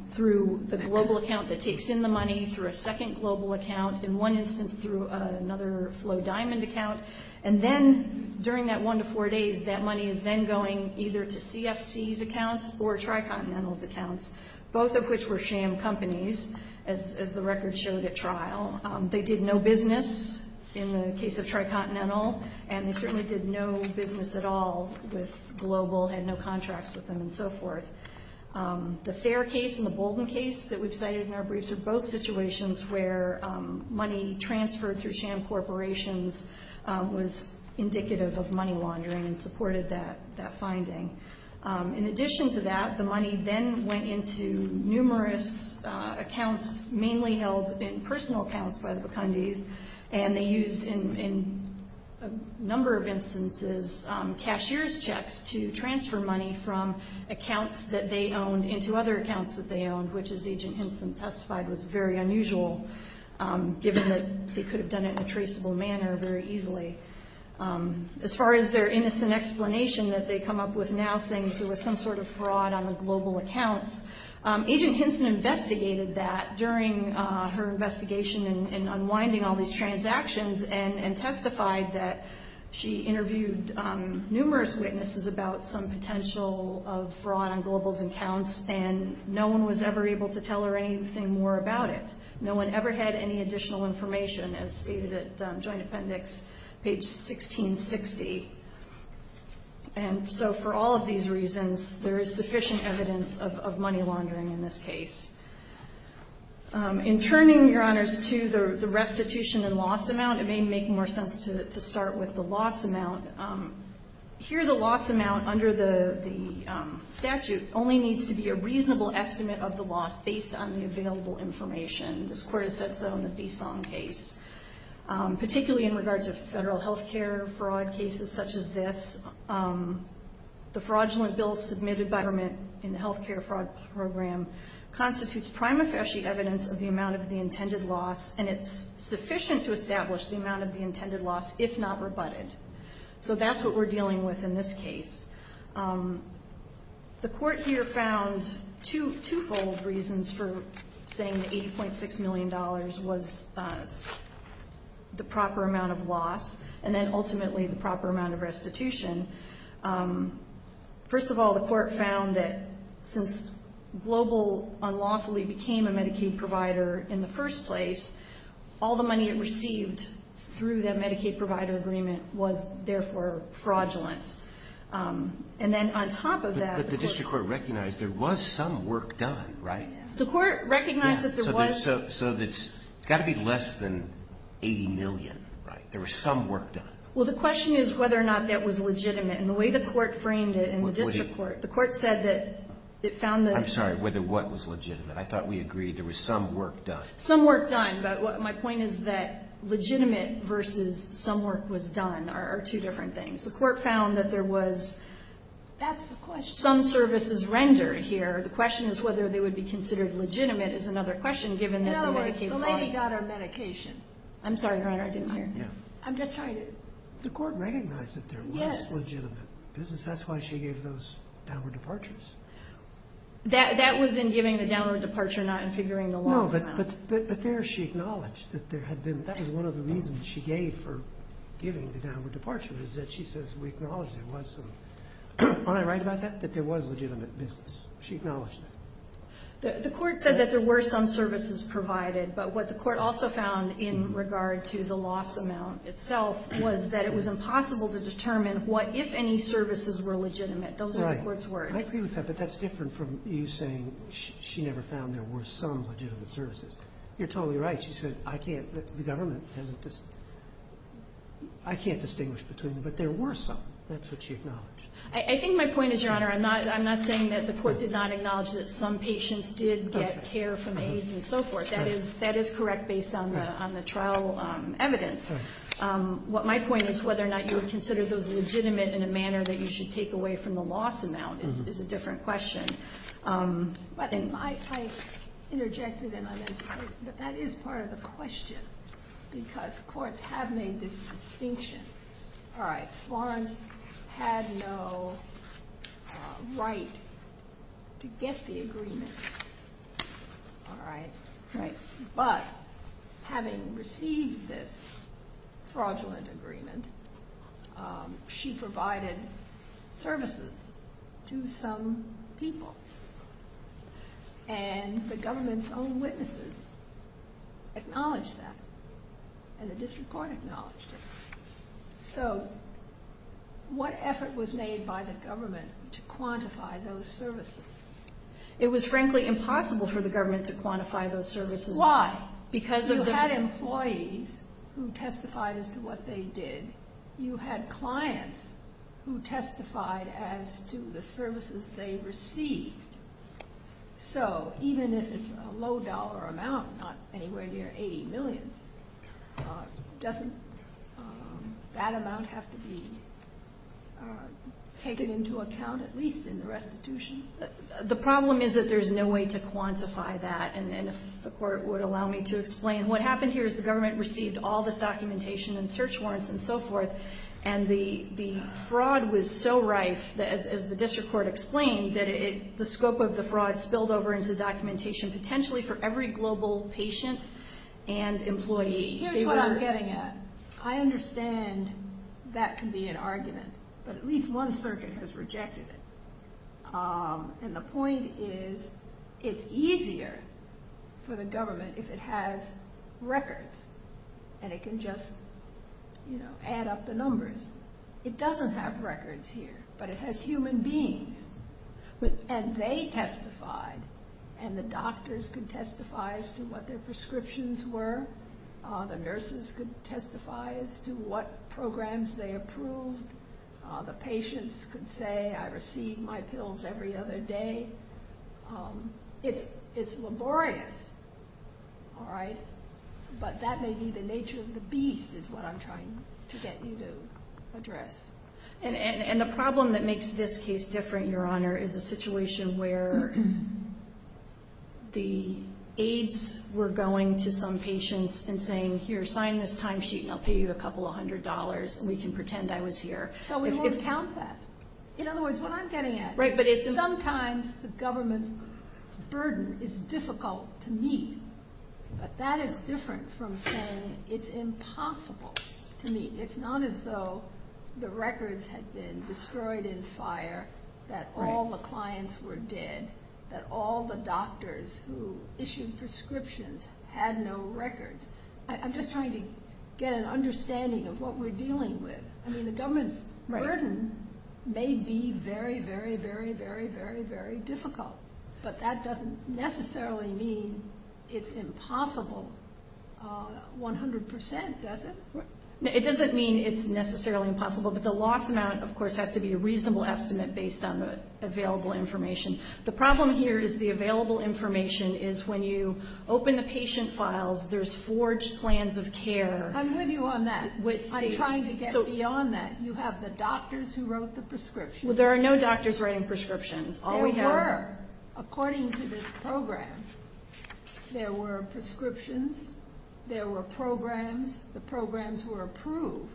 through the global account that takes in the money, through a second global account, in one instance through another FlowDiamond account. And then, during that one to four days, that money is then going either to CFC's accounts or TriContinental's accounts, both of which were sham companies, as the record showed at trial. They did no business in the case of TriContinental, and they certainly did no business at all with Global, had no contracts with them and so forth. The Thayer case and the Bolden case that we cited in our briefs are both situations where money transferred through sham corporations was indicative of money laundering and supported that finding. In addition to that, the money then went into numerous accounts, mainly held in personal accounts by the Bukundis, and they used, in a number of instances, cashier's checks to transfer money from accounts that they owned into other accounts that they owned, which, as Agent Henson testified, was very unusual, given that they could have done it in a traceable manner very easily. As far as their innocent explanation that they come up with now, saying there was some sort of fraud on the Global account, Agent Henson investigated that during her investigation in unwinding all these transactions and testified that she interviewed numerous witnesses about some potential of fraud on Global's accounts, and no one was ever able to tell her anything more about it. No one ever had any additional information, as stated at Joint Appendix, page 1660. And so for all of these reasons, there is sufficient evidence of money laundering in this case. In turning, Your Honors, to the restitution and loss amount, it may make more sense to start with the loss amount. Here, the loss amount under the statute only needs to be a reasonable estimate of the loss based on the available information. This court has set that on the BESOM case. Particularly in regards to federal health care fraud cases such as this, the fraudulent bill submitted by government in the health care fraud program constitutes prima facie evidence of the amount of the intended loss, and it's sufficient to establish the amount of the intended loss, if not rebutted. So that's what we're dealing with in this case. The court here found twofold reasons for saying that $80.6 million was the proper amount of loss, and then ultimately the proper amount of restitution. First of all, the court found that since Global unlawfully became a Medicaid provider in the first place, all the money it received through that Medicaid provider agreement was therefore fraudulent. And then on top of that... But the district court recognized there was some work done, right? The court recognized that there was... So it's got to be less than $80 million, right? There was some work done. Well, the question is whether or not that was legitimate, and the way the court framed it in the district court, the court said that it found that... I'm sorry, whether what was legitimate. I thought we agreed there was some work done. Some work done, but my point is that legitimate versus some work was done are two different things. The court found that there was some services rendered here. The question is whether they would be considered legitimate is another question, given that the Medicaid was... No, the lady got our medication. I'm sorry, Your Honor, I didn't hear. I'm just trying to... The court recognized that they're less legitimate. That's why she gave those downward departures. That was in giving the downward departure, not in figuring the loss out. No, but there she acknowledged that there had been... That is one of the reasons she gave for giving the downward departure, is that she says we acknowledge there was some. Aren't I right about that? That there was legitimate business. She acknowledged it. The court said that there were some services provided, but what the court also found in regard to the loss amount itself was that it was impossible to determine what, if any, services were legitimate. Those are the court's words. I agree with that, but that's different from you saying she never found there were some legitimate services. You're totally right. She said, I can't, the government, I can't distinguish between them, but there were some. That's what she acknowledged. I think my point is, Your Honor, I'm not saying that the court did not acknowledge that some patients did get care from AIDS and so forth. That is correct based on the trial evidence. My point is whether or not you would consider those legitimate in a manner that you should take away from the loss amount is a different question. I interjected and I mentioned that that is part of the question because courts have made this distinction. All right, Swan had no right to get the agreement. All right, great. But having received this fraudulent agreement, she provided services to some people and the government's own witnesses acknowledged that and the district court acknowledged it. So what effort was made by the government to quantify those services? It was frankly impossible for the government to quantify those services. Why? Because you had employees who testified as to what they did. You had clients who testified as to the services they received. So even if it's a low dollar amount, not anywhere near $80 million, doesn't that amount have to be taken into account at least in the restitution? The problem is that there's no way to quantify that and the court would allow me to explain. What happened here is the government received all the documentation and search warrants and so forth and the fraud was so rife, as the district court explained, that the scope of the fraud spilled over into documentation potentially for every global patient and employee. Here's what I'm getting at. I understand that can be an argument, but at least one circuit has rejected it. And the point is it's easier for the government if it has records and it can just add up the numbers. It doesn't have records here, but it has human beings. And they testified and the doctors could testify as to what their prescriptions were. The nurses could testify as to what programs they approved. The patients could say, I received my pills every other day. It's laborious, all right? But that may be the nature of the beast is what I'm trying to get you to address. And the problem that makes this case different, Your Honor, is a situation where the aides were going to some patients and saying, here, sign this timesheet and I'll pay you a couple of hundred dollars and we can pretend I was here. In other words, what I'm getting at is sometimes the government's burden is difficult to meet, and it's not as though the records had been destroyed in fire, that all the clients were dead, that all the doctors who issued prescriptions had no records. I'm just trying to get an understanding of what we're dealing with. I mean, the government's burden may be very, very, very, very, very, very difficult, but that doesn't necessarily mean it's impossible 100 percent, does it? It doesn't mean it's necessarily impossible, but the loss amount, of course, has to be a reasonable estimate based on the available information. The problem here is the available information is when you open the patient files, there's forged plans of care. I'm with you on that. I'm trying to get beyond that. You have the doctors who wrote the prescriptions. Well, there are no doctors writing prescriptions. There were, according to this program. There were prescriptions. There were programs. The programs were approved.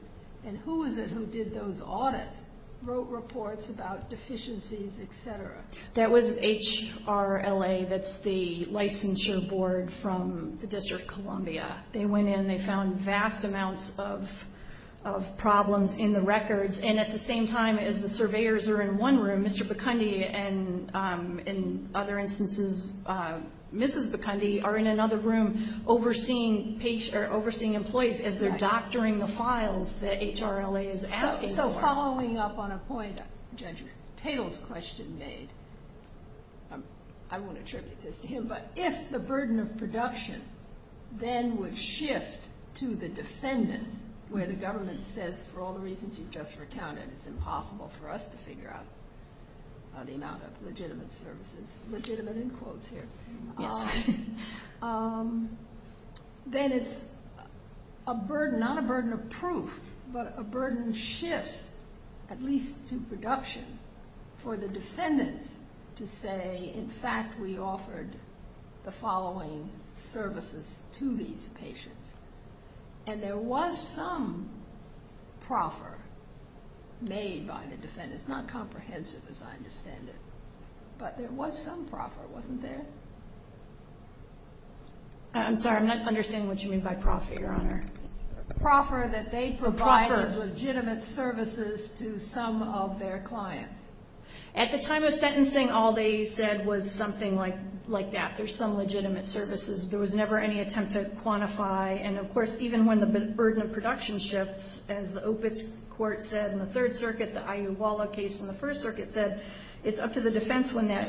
And who is it who did those audits, wrote reports about deficiencies, et cetera? That was HRLA. That's the licensure board from the District of Columbia. They went in and they found vast amounts of problems in the records, and at the same time as the surveyors were in one room, Mr. Bikundi and, in other instances, Mrs. Bikundi, are in another room overseeing employees as they're doctoring the files that HRLA is asking for. So following up on a point Judge Taylor's question made, I won't attribute this to him, but if the burden of production then would shift to the defendant where the government says, for all the reasons you've just recounted, it's impossible for us to figure out the amount of legitimate services, legitimate in quotes here, then it's a burden, not a burden of proof, but a burden shift, at least to production, for the defendant to say, in fact, we offered the following services to these patients. And there was some proffer made by the defendant. It's not comprehensive, as I understand it, but there was some proffer, wasn't there? I'm sorry, I'm not understanding what you mean by proffer, Your Honor. Proffer that they provided legitimate services to some of their clients. At the time of sentencing, all they said was something like that. There's some legitimate services. There was never any attempt to quantify. And, of course, even when the burden of production shifts, as the open court said in the Third Circuit, the IU Walla case in the First Circuit said, it's up to the defense when that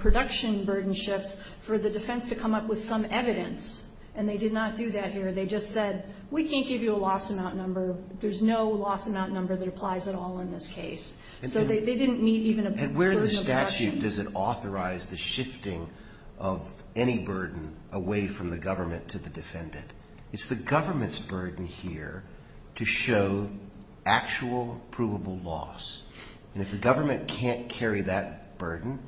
production burden shifts for the defense to come up with some evidence. And they did not do that here. They just said, we can't give you a loss amount number. There's no loss amount number that applies at all in this case. So they didn't need even a burden of production. And where in the statute does it authorize the shifting of any burden away from the government to the defendant? It's the government's burden here to show actual provable loss. And if the government can't carry that burden,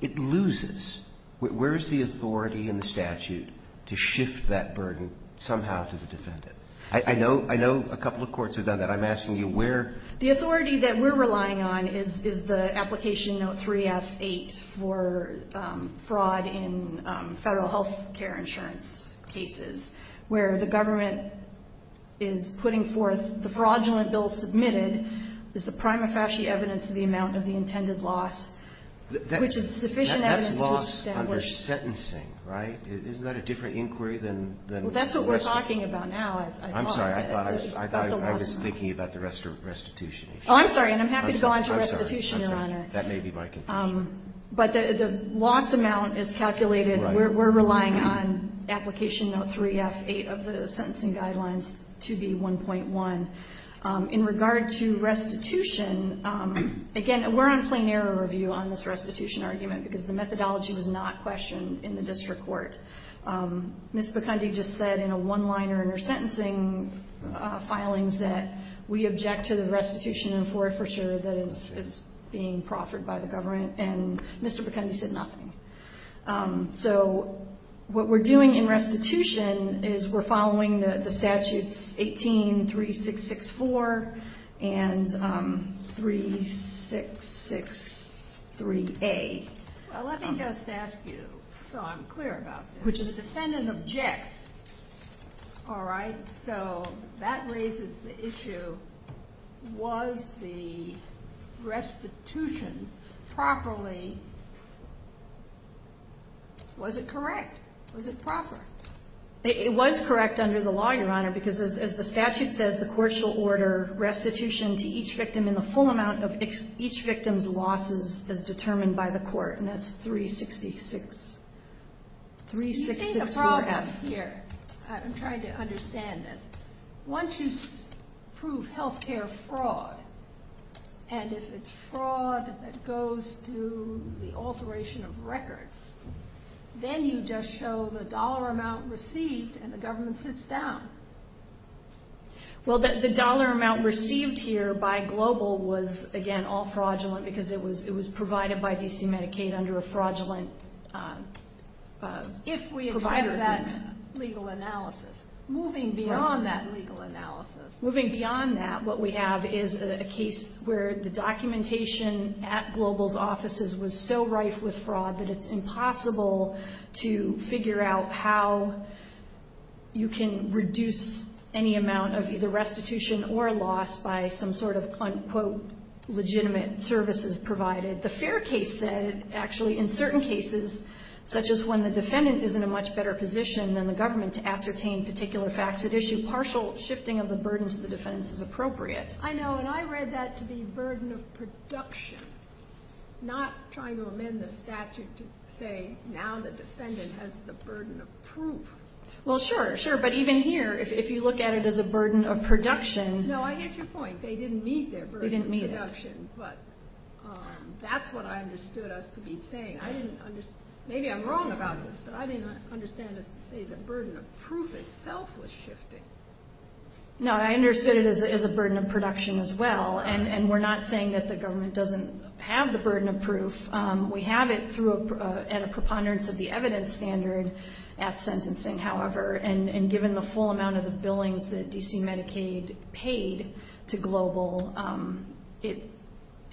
it loses. Where is the authority in the statute to shift that burden somehow to the defendant? I know a couple of courts have done that. I'm asking you where. The authority that we're relying on is the application of 3F8 for fraud in federal health care insurance cases, where the government is putting forth the fraudulent bill submitted is the prima facie evidence of the amount of the intended loss, which is sufficient evidence to establish. That's loss under sentencing, right? Isn't that a different inquiry than the rest of it? Well, that's what we're talking about now, I thought. I was thinking about the restitution. Oh, I'm sorry, and I'm happy to go on to restitution on it. That may be my concern. But the loss amount is calculated. We're relying on application 3F8 of the sentencing guidelines to be 1.1. In regard to restitution, again, we're on a plain error review on this restitution argument because the methodology was not questioned in the district court. Ms. McKenzie just said in a one-liner in her sentencing filings that we object to the restitution and for it for sure that it's being proffered by the government, and Mr. McKenzie said nothing. So what we're doing in restitution is we're following the statutes 18-3664 and 3663A. Well, let me just ask you, so I'm clear about this, which is a defendant objects, all right? So that raises the issue, was the restitution properly, was it correct? Was it proper? It was correct under the law, Your Honor, because as the statute says, the court shall order restitution to each victim in the full amount of each victim's losses as determined by the court, and that's 366. You see the problem here? I'm trying to understand this. Once you prove health care fraud, and if it's fraud that goes through the alteration of records, then you just show the dollar amount received and the government sits down. Well, the dollar amount received here by Global was, again, all fraudulent because it was provided by D.C. Medicaid under a fraudulent provider. If we have that legal analysis, moving beyond that legal analysis. Moving beyond that, what we have is a case where the documentation at Global's offices was so rife with fraud that it's impossible to figure out how you can reduce any amount of either restitution or loss by some sort of, quote, legitimate services provided. The fair case said, actually, in certain cases, such as when the defendant is in a much better position than the government to ascertain particular facts, it issues partial shifting of the burdens to the defendants as appropriate. I know, and I read that to be burden of production, not trying to amend the statute to say, now the defendant has the burden of proof. Well, sure, sure. But even here, if you look at it as a burden of production... No, I get your point. They didn't meet their burden of production, but that's what I understood us to be saying. Maybe I'm wrong about this, but I didn't understand the burden of proof itself was shifting. No, I understood it as a burden of production as well, and we're not saying that the government doesn't have the burden of proof. We have it through a preponderance of the evidence standard at sentencing, however, and given the full amount of the billings that D.C. Medicaid paid to Global, it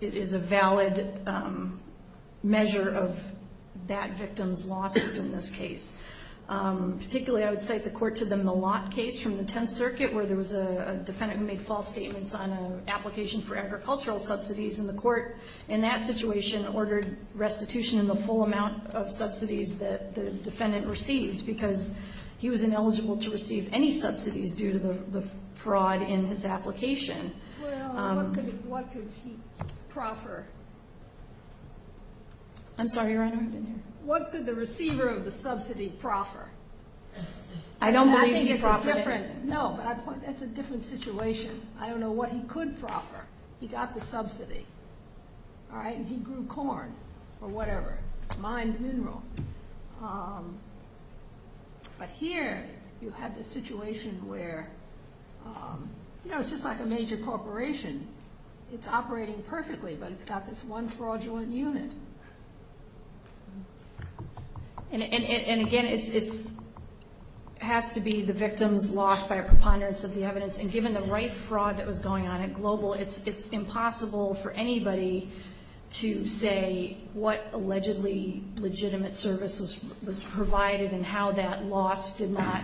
is a valid measure of that victim's losses in this case. Particularly, I would cite the court to the Malott case from the Tenth Circuit, where there was a defendant who made false statements on an application for agricultural subsidies in the court. In that situation, ordered restitution in the full amount of subsidies that the defendant received because he was ineligible to receive any subsidies due to the fraud in his application. Well, what could he proffer? I'm sorry, your honor? What could the receiver of the subsidy proffer? I don't believe he could proffer it. No, but that's a different situation. I don't know what he could proffer. He got the subsidy, all right, and he grew corn or whatever, mines mineral. But here, you have the situation where, you know, it's just like a major corporation. It's operating perfectly, but it's got this one fraudulent unit. And again, it has to be the victim's loss by a preponderance of the evidence, and given the right fraud that was going on at Global, it's impossible for anybody to say what allegedly legitimate service was provided and how that loss did not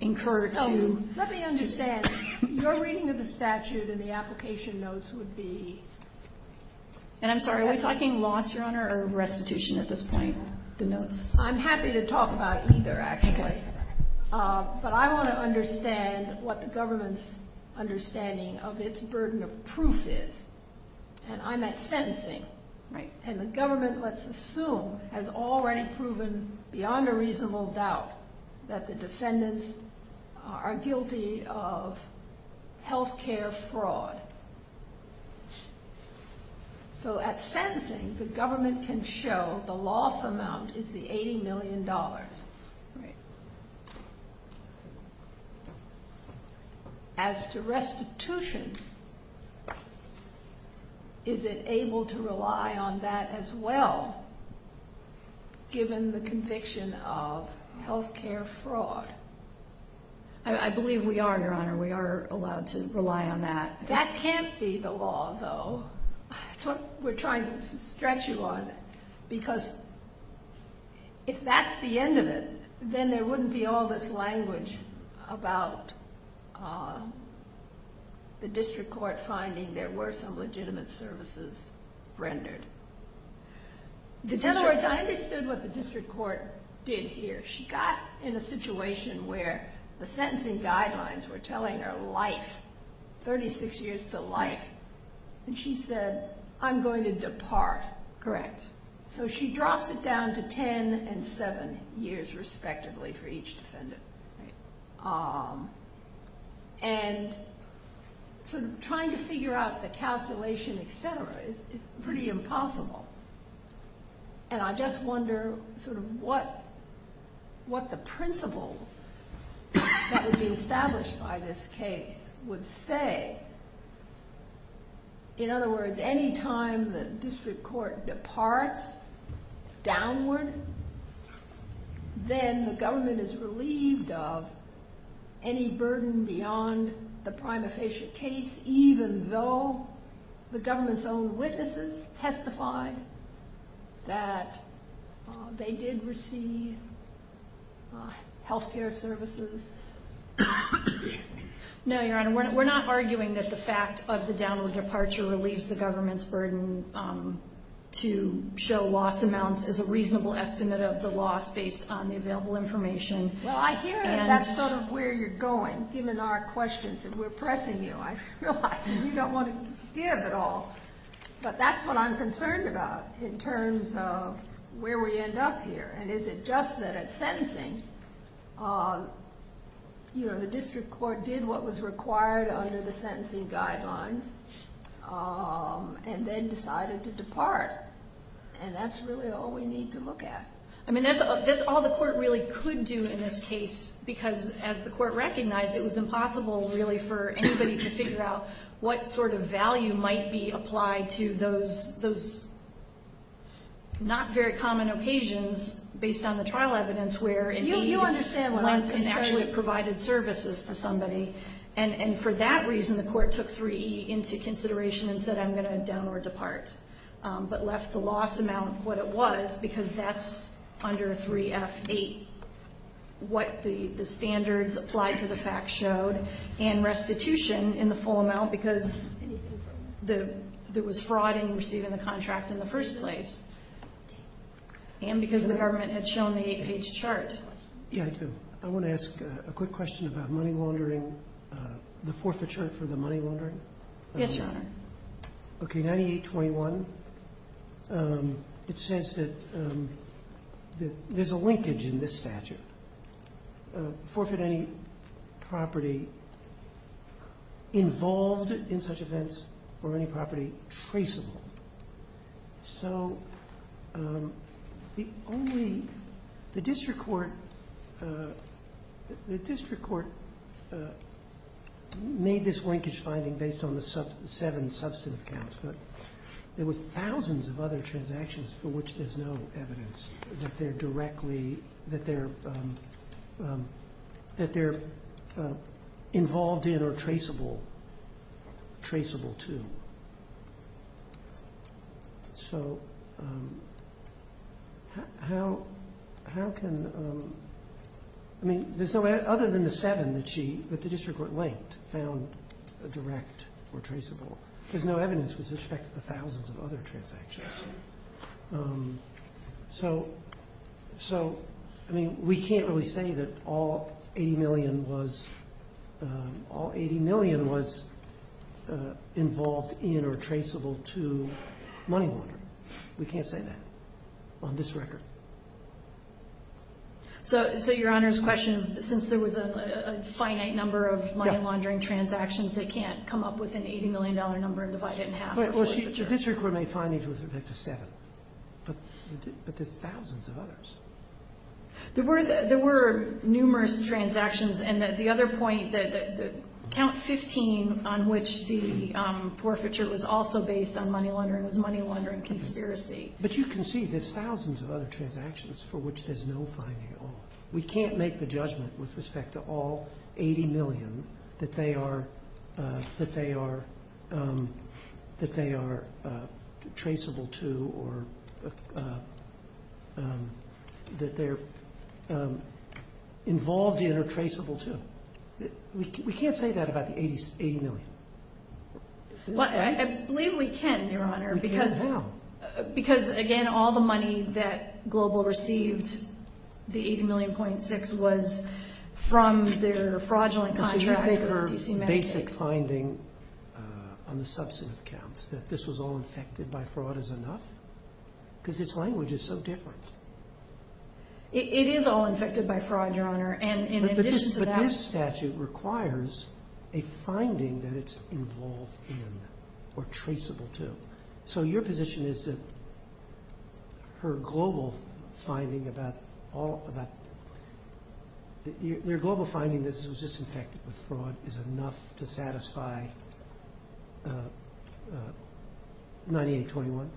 incur. Oh, let me understand. Your reading of the statute in the application notes would be... And I'm sorry, if I can launch, your honor, a restitution at this point. I'm happy to talk about either, actually. But I want to understand what the government's understanding of its burden of proof is. And I'm at sentencing. And the government, let's assume, has already proven beyond a reasonable doubt that the defendants are guilty of health care fraud. So at sentencing, the government can show the loss amount is the $80 million. As to restitution, is it able to rely on that as well, given the conviction of health care fraud? I believe we are, your honor. We are allowed to rely on that. That can't be the law, though. We're trying to stretch you on that. Because if that's the end of it, then there wouldn't be all this language about the district court finding there were some legitimate services rendered. I understand what the district court did here. She got in a situation where the sentencing guidelines were telling her life, 36 years to life. And she said, I'm going to depart. Correct. So she dropped it down to 10 and 7 years, respectively, for each defendant. And so trying to figure out the calculation, et cetera, is pretty impossible. And I just wonder what the principles that would be established by this case would say. In other words, any time the district court departs downward, then the government is relieved of any burden beyond the prima facie case, even though the government's own witnesses testified that they did receive health care services. No, your honor. We're not arguing that the fact of the downward departure relieves the government's burden to show loss amounts as a reasonable estimate of the loss based on the available information. Well, I hear you. That's sort of where you're going, given our questions. We're pressing you. I realize you don't want to give at all. But that's what I'm concerned about in terms of where we end up here. And is it just that at sentencing, the district court did what was required under the sentencing guidelines and then decided to depart. And that's really all we need to look at. I mean, that's all the court really could do in this case, because as the court recognized, it was impossible, really, for anybody to figure out what sort of value might be applied to those not very common occasions based on the trial evidence where it may have been months and actually provided services for somebody. And for that reason, the court took 3E into consideration and said, I'm going to downward depart. But left the loss amount what it was, because that's under 3F8, what the standards applied to the facts showed, and restitution in the full amount because there was fraud in receiving the contract in the first place. And because the government had shown the 8-page chart. I want to ask a quick question about money laundering, the forfeiture for the money laundering. Yes, Your Honor. Okay, 9821. It says that there's a linkage in this statute. Forfeit any property involved in such events where any property is traceable. So the district court made this linkage finding based on the seven substantive counts, but there were thousands of other transactions for which there's no evidence that they're involved in or traceable to. So how can, I mean, other than the seven that the district court linked, found direct or traceable. There's no evidence with respect to the thousands of other transactions. So, I mean, we can't really say that all 80 million was involved in or traceable to money laundering. We can't say that on this record. So, Your Honor's question, since there was a finite number of money laundering transactions, they can't come up with an $80 million number and divide it in half. Well, the district court made findings with respect to seven, but there's thousands of others. There were numerous transactions, and the other point, the count 15 on which the forfeiture was also based on money laundering was money laundering conspiracy. But you can see there's thousands of other transactions for which there's no finding. We can't make the judgment with respect to all 80 million that they are traceable to or that they're involved in or traceable to. We can't say that about the 80 million. I believe we can, Your Honor. Because how? Because, again, all the money that Global received, the 80 million.6, was from their fraudulent contracts. Do you think her basic finding on the substantive counts, that this was all infected by fraud, is enough? Because its language is so different. It is all infected by fraud, Your Honor. But this statute requires a finding that it's involved in or traceable to. So your position is that her global finding that this was just infected by fraud is enough to satisfy 9821?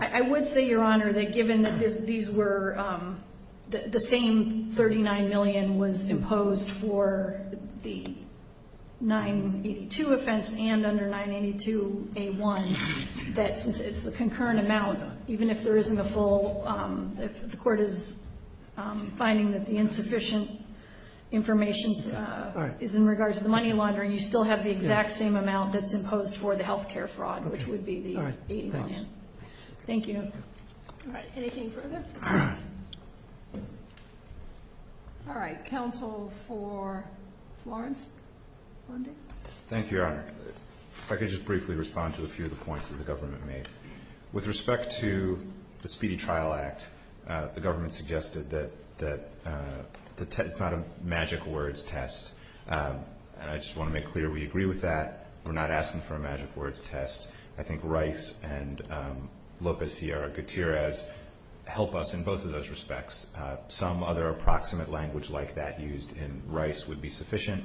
I would say, Your Honor, that given that the same 39 million was imposed for the 982 offense and under 982A1, that it's a concurrent amount. Even if there isn't a full, if the court is finding that the insufficient information is in regards to the money laundering, you still have the exact same amount that's imposed for the health care fraud, which would be the 80 million. Thank you. All right, anything further? All right, counsel for Florence? Thank you, Your Honor. If I could just briefly respond to a few of the points that the government made. With respect to the Speedy Trial Act, the government suggested that it's not a magic words test. I just want to make clear we agree with that. We're not asking for a magic words test. I think Rice and Lopez-Tierra Gutierrez help us in both of those respects. Some other approximate language like that used in Rice would be sufficient.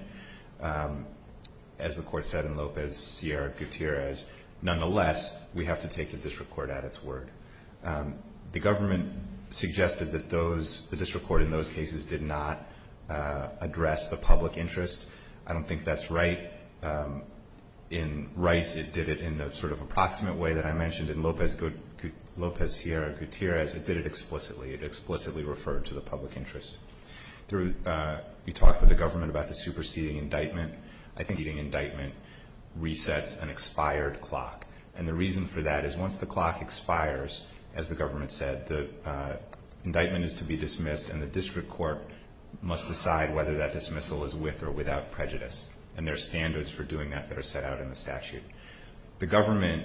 As the court said in Lopez-Tierra Gutierrez, nonetheless, we have to take the district court at its word. The government suggested that the district court in those cases did not address the public interest. I don't think that's right. In Rice, it did it in the sort of approximate way that I mentioned. In Lopez-Tierra Gutierrez, it did it explicitly. It explicitly referred to the public interest. We talked with the government about the superseding indictment. I think an indictment resets an expired clock. And the reason for that is once the clock expires, as the government said, the indictment is to be dismissed, and the district court must decide whether that dismissal is with or without prejudice. And there are standards for doing that that are set out in the statute. The government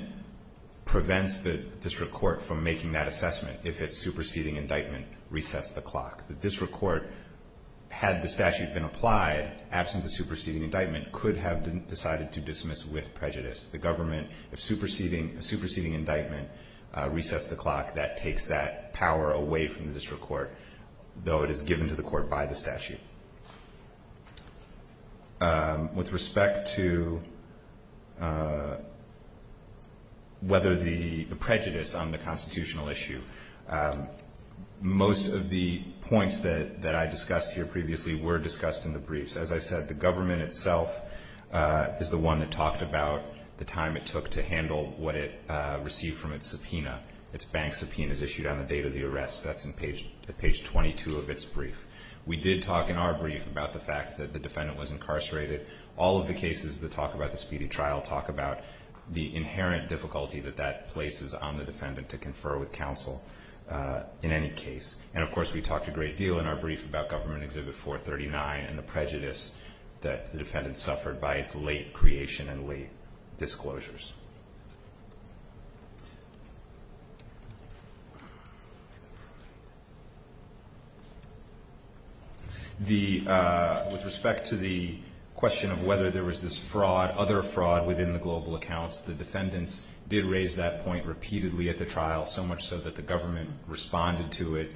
prevents the district court from making that assessment if its superseding indictment resets the clock. The district court, had the statute been applied, absent the superseding indictment could have decided to dismiss with prejudice. The government superseding indictment resets the clock. That takes that power away from the district court, though it is given to the court by the statute. With respect to whether the prejudice on the constitutional issue, most of the points that I discussed here previously were discussed in the briefs. As I said, the government itself is the one that talked about the time it took to handle what it received from its subpoena, its bank subpoenas issued on the date of the arrest. That's on page 22 of its brief. We did talk in our brief about the fact that the defendant was incarcerated. All of the cases that talk about the speedy trial talk about the inherent difficulty that that places on the defendant to confer with counsel in any case. And, of course, we talked a great deal in our brief about Government Exhibit 439 and the prejudice that the defendant suffered by its late creation and late disclosures. With respect to the question of whether there was this fraud, other fraud within the global accounts, the defendants did raise that point repeatedly at the trial, so much so that the government responded to it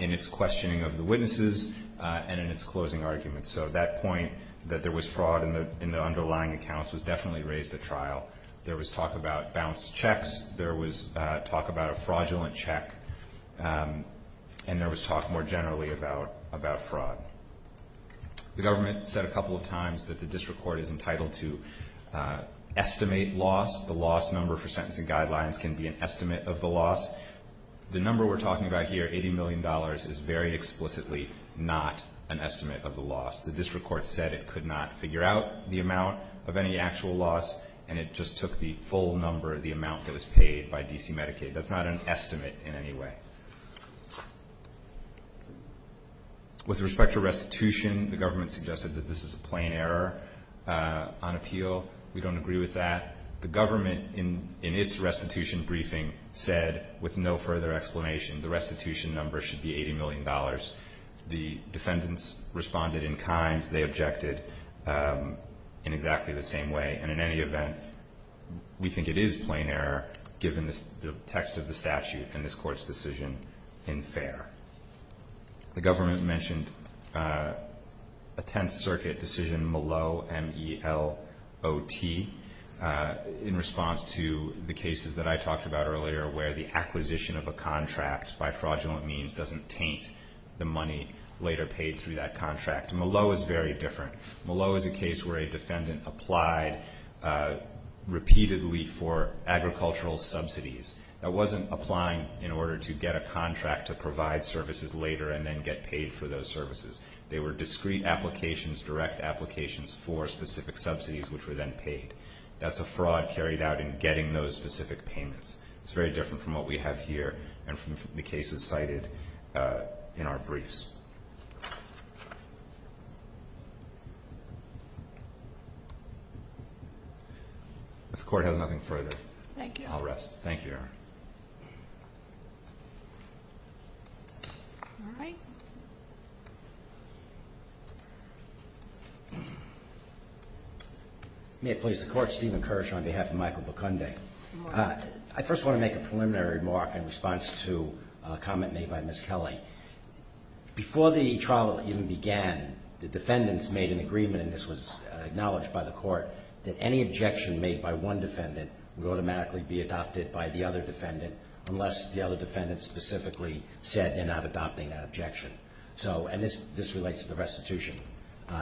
in its questioning of the witnesses and in its closing arguments. So that point that there was fraud in the underlying accounts was definitely raised at trial. There was talk about bounced checks. There was talk about a fraudulent check. And there was talk more generally about fraud. The government said a couple of times that the district court is entitled to estimate loss. The loss number for sentencing guidelines can be an estimate of the loss. The number we're talking about here, $80 million, is very explicitly not an estimate of the loss. The district court said it could not figure out the amount of any actual loss, and it just took the full number of the amount that was paid by D.C. Medicaid. That's not an estimate in any way. With respect to restitution, the government suggested that this is a plain error on appeal. We don't agree with that. The government, in its restitution briefing, said, with no further explanation, the restitution number should be $80 million. The defendants responded in kind. They objected in exactly the same way. And in any event, we think it is plain error, given the text of the statute in this court's decision, in fair. The government mentioned a Tenth Circuit decision, Malot, M-E-L-O-T, in response to the cases that I talked about earlier, where the acquisition of a contract by fraudulent means doesn't taint the money later paid through that contract. Malot is very different. Malot is a case where a defendant applied repeatedly for agricultural subsidies. That wasn't applying in order to get a contract to provide services later and then get paid for those services. They were discrete applications, direct applications for specific subsidies, which were then paid. That's a fraud carried out in getting those specific payments. It's very different from what we have here and from the cases cited in our briefs. If the Court has nothing further, I'll rest. All right. May it please the Court, Stephen Kirsch on behalf of Michael Bucunde. I first want to make a preliminary remark in response to a comment made by Ms. Kelly. Before the trial even began, the defendants made an agreement, and this was acknowledged by the Court, that any objection made by one defendant would automatically be adopted by the other defendant. Unless the other defendant specifically said they're not adopting that objection. And this relates to the restitution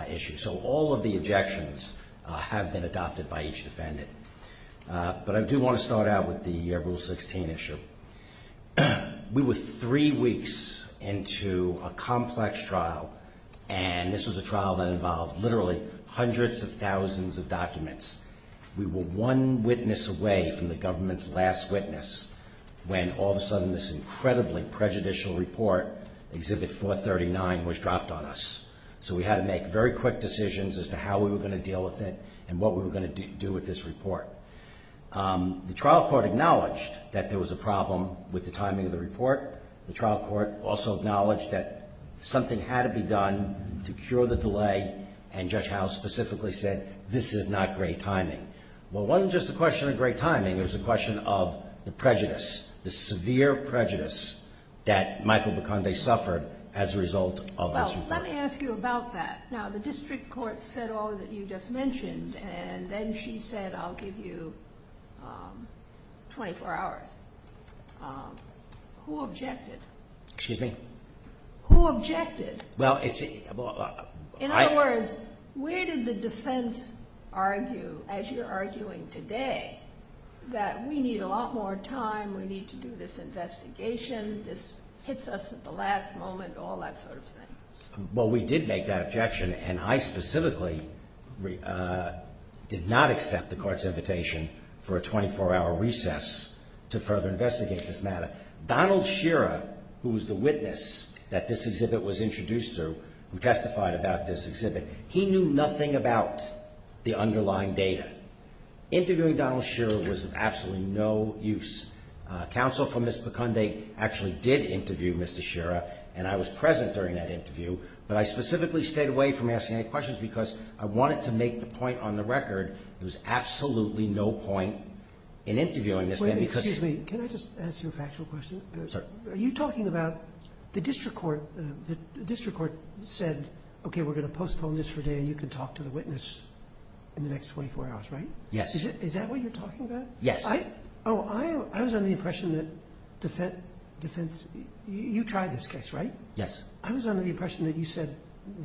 issue. So all of the objections have been adopted by each defendant. But I do want to start out with the Rule 16 issue. We were three weeks into a complex trial, and this was a trial that involved literally hundreds of thousands of documents. We were one witness away from the government's last witness, when all of a sudden this incredibly prejudicial report, Exhibit 439, was dropped on us. So we had to make very quick decisions as to how we were going to deal with it and what we were going to do with this report. The trial court acknowledged that there was a problem with the timing of the report. The trial court also acknowledged that something had to be done to cure the delay, and Judge Howe specifically said, this is not great timing. Well, it wasn't just a question of great timing, it was a question of the prejudice, the severe prejudice that Michael DeConde suffered as a result of this report. Well, let me ask you about that. Now, the district court said all that you just mentioned, and then she said, I'll give you 24 hours. Who objected? Excuse me? Who objected? Well, it's... In other words, where did the defense argue, as you're arguing today, that we need a lot more time, we need to do this investigation, this hits us at the last moment, all that sort of thing? Well, we did make that objection, and I specifically did not accept the court's invitation for a 24-hour recess to further investigate this matter. Donald Schirra, who was the witness that this exhibit was introduced to, who testified about this exhibit, he knew nothing about the underlying data. Interviewing Donald Schirra was of absolutely no use. Counsel for Ms. DeConde actually did interview Mr. Schirra, and I was present during that interview, but I specifically stayed away from asking any questions because I wanted to make the point on the record there was absolutely no point in interviewing this man because... Are you talking about the district court said, okay, we're going to postpone this for today, and you can talk to the witness in the next 24 hours, right? Yes. Is that what you're talking about? Yes. I was under the impression that defense... You tried this case, right? Yes. I was under the impression that you said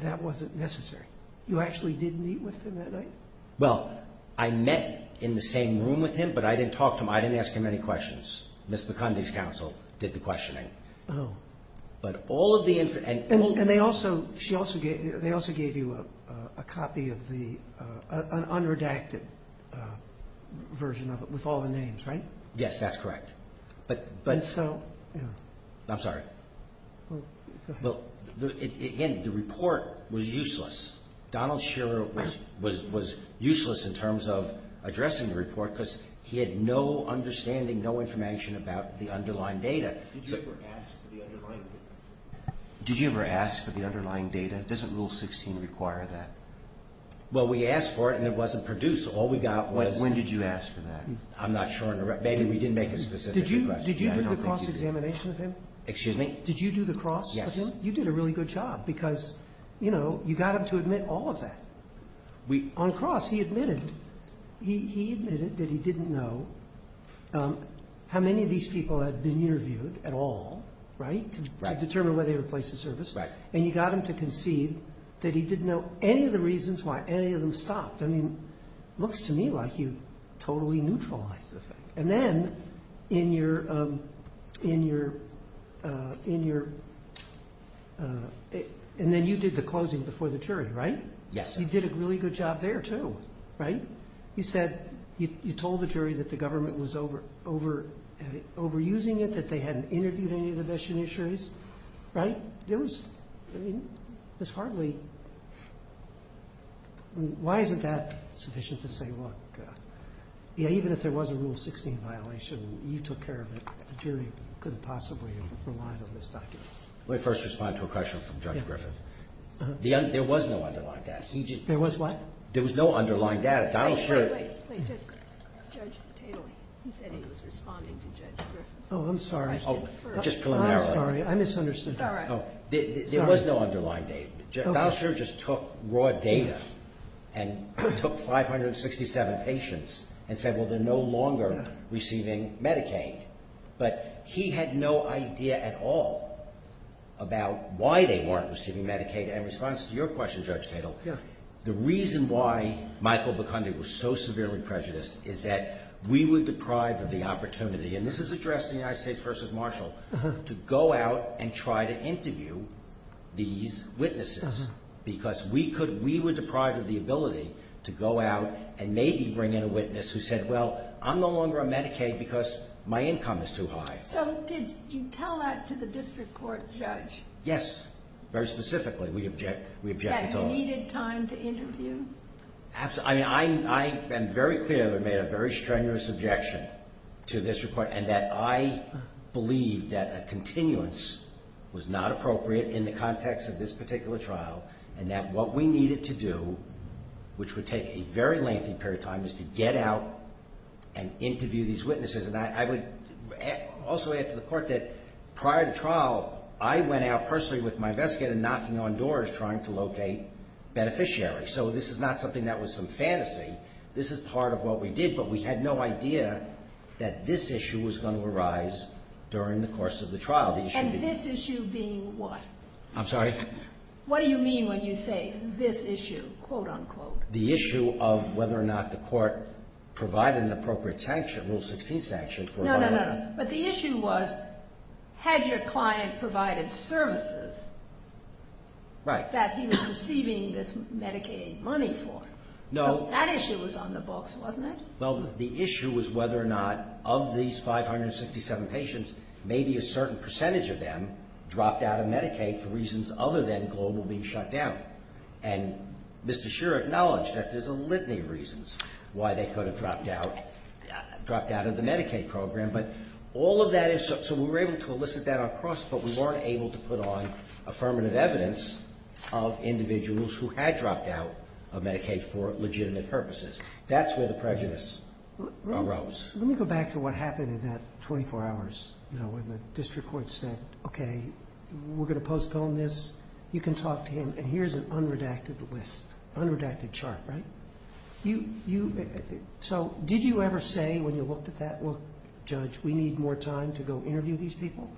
that wasn't necessary. You actually didn't meet with him that night? Well, I met in the same room with him, but I didn't talk to him. I didn't ask him any questions. Ms. DeConde's counsel did the questioning. Oh. But all of the... And they also gave you a copy of the... an unredacted version of it with all the names, right? Yes, that's correct. But... I'm sorry. Again, the report was useless. Donald Shiller was useless in terms of addressing the report because he had no understanding, no information about the underlying data. Did you ever ask for the underlying data? Did you ever ask for the underlying data? Doesn't Rule 16 require that? Well, we asked for it, and it wasn't produced. All we got was... When did you ask for that? I'm not sure. Maybe we didn't make a specific request. Did you do the cross-examination with him? Excuse me? Did you do the cross with him? Yes. You did a really good job because, you know, you got him to admit all of that. On cross, he admitted. He admitted that he didn't know how many of these people had been interviewed at all, right? Right. To determine whether they were placed in service. Right. And you got him to concede that he didn't know any of the reasons why any of them stopped. I mean, it looks to me like you totally neutralized this. And then, in your... And then you did the closing before the jury, right? Yes. You did a really good job there, too, right? You said, you told the jury that the government was overusing it, that they hadn't interviewed any of the best judiciaries, right? It was hardly... Why isn't that sufficient to say, well... Yeah, even if there was a Rule 16 violation, you took care of it. The jury couldn't possibly have relied on this document. Let me first respond to a question from Judge Griffith. There was no underlined data. There was what? There was no underlined data. Judge Patel, he said he was responding to Judge Griffith. Oh, I'm sorry. Just preliminarily. I'm sorry. I misunderstood. There was no underlined data. Judge Gallagher just took raw data and took 567 patients and said, well, they're no longer receiving Medicaid. But he had no idea at all about why they weren't receiving Medicaid. And in response to your question, Judge Patel, the reason why Michael Bucondi was so severely prejudiced is that we were deprived of the opportunity, and this is addressed in the United States v. Marshall, to go out and try to interview these witnesses because we were deprived of the ability to go out and maybe bring in a witness who said, well, I'm no longer on Medicaid because my income is too high. So did you tell that to the district court judge? Yes, very specifically. Have you needed time to interview? I am very clear that I made a very strenuous objection to the district court and that I believe that a continuance was not appropriate in the context of this particular trial and that what we needed to do, which would take a very lengthy period of time, is to get out and interview these witnesses. And I would also add to the court that prior to trial, I went out personally with my investigator knocking on doors trying to locate beneficiaries. So this is not something that was some fantasy. This is part of what we did, but we had no idea that this issue was going to arise during the course of the trial. And this issue being what? I'm sorry? What do you mean when you say this issue, quote-unquote? The issue of whether or not the court provided an appropriate rule 16 sanction. No, no, no. But the issue was, had your client provided services that he was receiving this Medicaid money for? No. That issue was on the books, wasn't it? Well, the issue was whether or not of these 567 patients, maybe a certain percentage of them dropped out of Medicaid for reasons other than global being shut down. And Mr. Scherer acknowledged that there's a litany of reasons why they could have dropped out of the Medicaid program. So we were able to elicit that across, but we weren't able to put on affirmative evidence of individuals who had dropped out of Medicaid for legitimate purposes. That's where the prejudice arose. Let me go back to what happened in that 24 hours where the district court said, okay, we're going to postpone this. You can talk to him, and here's an unredacted list, unredacted chart, right? So did you ever say when you looked at that, well, Judge, we need more time to go interview these people?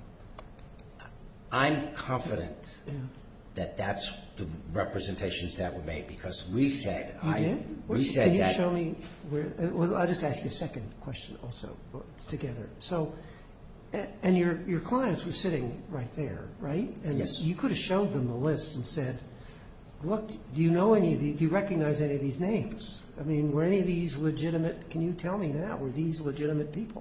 I'm confident that that's the representations that were made because we said that. Can you show me? I'll just ask you a second question also together. And your clients were sitting right there, right? Yes. And you could have showed them the list and said, look, do you recognize any of these names? I mean, were any of these legitimate? Can you tell me that? Were these legitimate patients?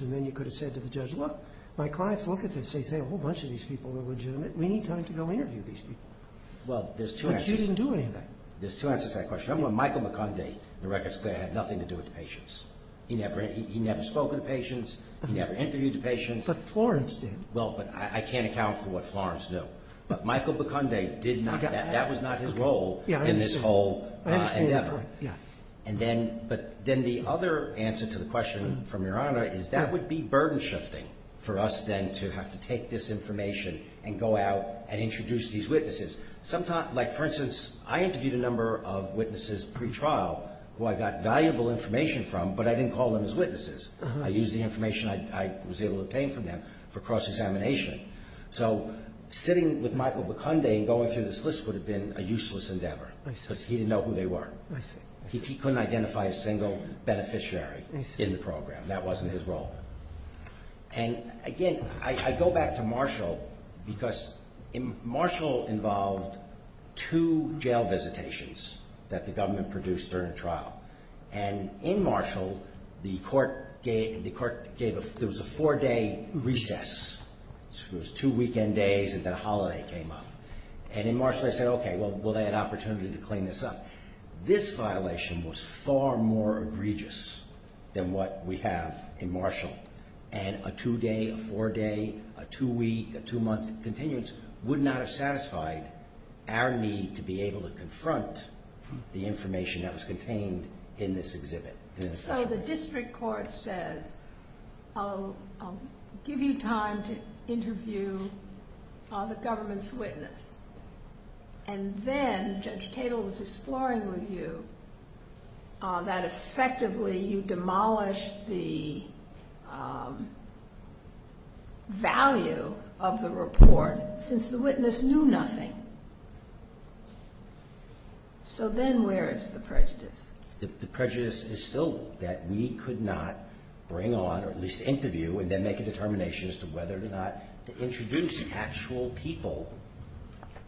And then you could have said to the judge, look, my clients look at this and say, a whole bunch of these people are legitimate. We need time to go interview these people. But she didn't do anything. There's two answers to that question. Remember when Michael Buconde, the record's clear, had nothing to do with patients. He never spoke to patients. He never interviewed patients. But Florence did. Well, but I can't account for what Florence knew. But Michael Buconde did not. That was not his role in this whole endeavor. But then the other answer to the question from Your Honor is that would be burden shifting for us then to have to take this information and go out and introduce these witnesses. Like, for instance, I interviewed a number of witnesses pretrial who I got valuable information from, but I didn't call them as witnesses. I used the information I was able to obtain from them for cross-examination. So sitting with Michael Buconde and going through this list would have been a useless endeavor because he didn't know who they were. He couldn't identify a single beneficiary in the program. That wasn't his role. And again, I go back to Marshall because Marshall involved two jail visitations that the government produced during trial. And in Marshall, the court gave a four-day recess. It was two weekend days and then a holiday came up. And in Marshall, I said, OK, well, they had an opportunity to clean this up. This violation was far more egregious than what we have in Marshall. And a two-day, a four-day, a two-week, a two-month continuance would not have satisfied our need to be able to confront the information that was contained in this exhibit. So the district court said, I'll give you time to interview the government's witness. And then Judge Tatel was exploring with you that effectively you've demolished the value of the report since the witness knew nothing. So then where is the prejudice? The prejudice is still that we could not bring on, at least interview, and then make a determination as to whether or not to introduce actual people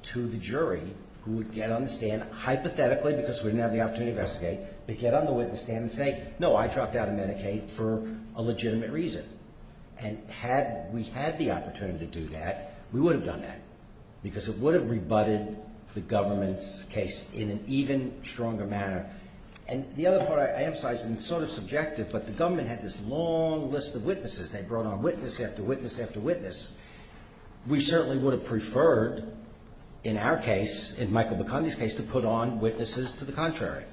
to the jury who would get on the stand hypothetically because we didn't have the opportunity to investigate, but get on the witness stand and say, no, I dropped out of Medicaid for a legitimate reason. And had we had the opportunity to do that, we would have done that. Because it would have rebutted the government's case in an even stronger manner. And the other part I emphasize, and sort of subjective, but the government had this long list of witnesses. They brought on witness after witness after witness. We certainly would have preferred, in our case, in Michael Bicondi's case, to put on witnesses to the contrary.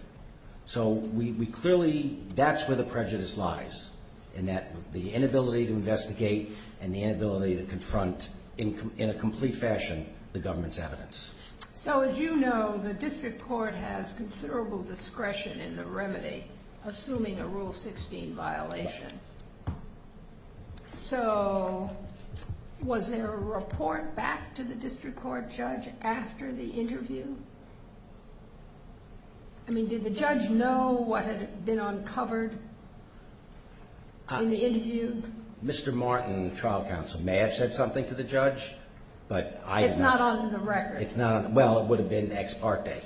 So we clearly, that's where the prejudice lies, in that the inability to investigate and the inability to confront in a complete fashion the government's evidence. So as you know, the district court has considerable discretion in the remedy, assuming a Rule 16 violation. So was there a report back to the district court judge after the interview? I mean, did the judge know what had been uncovered in the interview? Mr. Martin and the trial counsel may have said something to the judge, but I have not. It's not on the record. It's not on the record. Well, it would have been ex parte.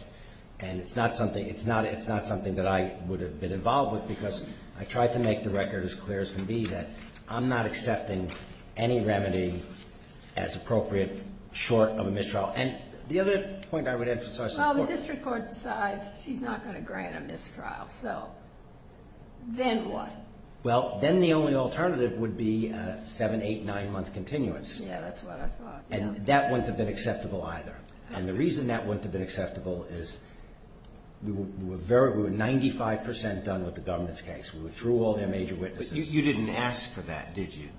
And it's not something that I would have been involved with because I tried to make the record as clear as can be that I'm not accepting any remedy as appropriate short of a mistrial. And the other point I would emphasize is the court. Well, the district court decides she's not going to grant a mistrial. So then what? Well, then the only alternative would be a seven, eight, nine month continuance. Yeah, that's what I thought. And that wouldn't have been acceptable either. And the reason that wouldn't have been acceptable is we were 95% done with the government's case. We were through all their major witnesses. But you didn't ask for that, did you?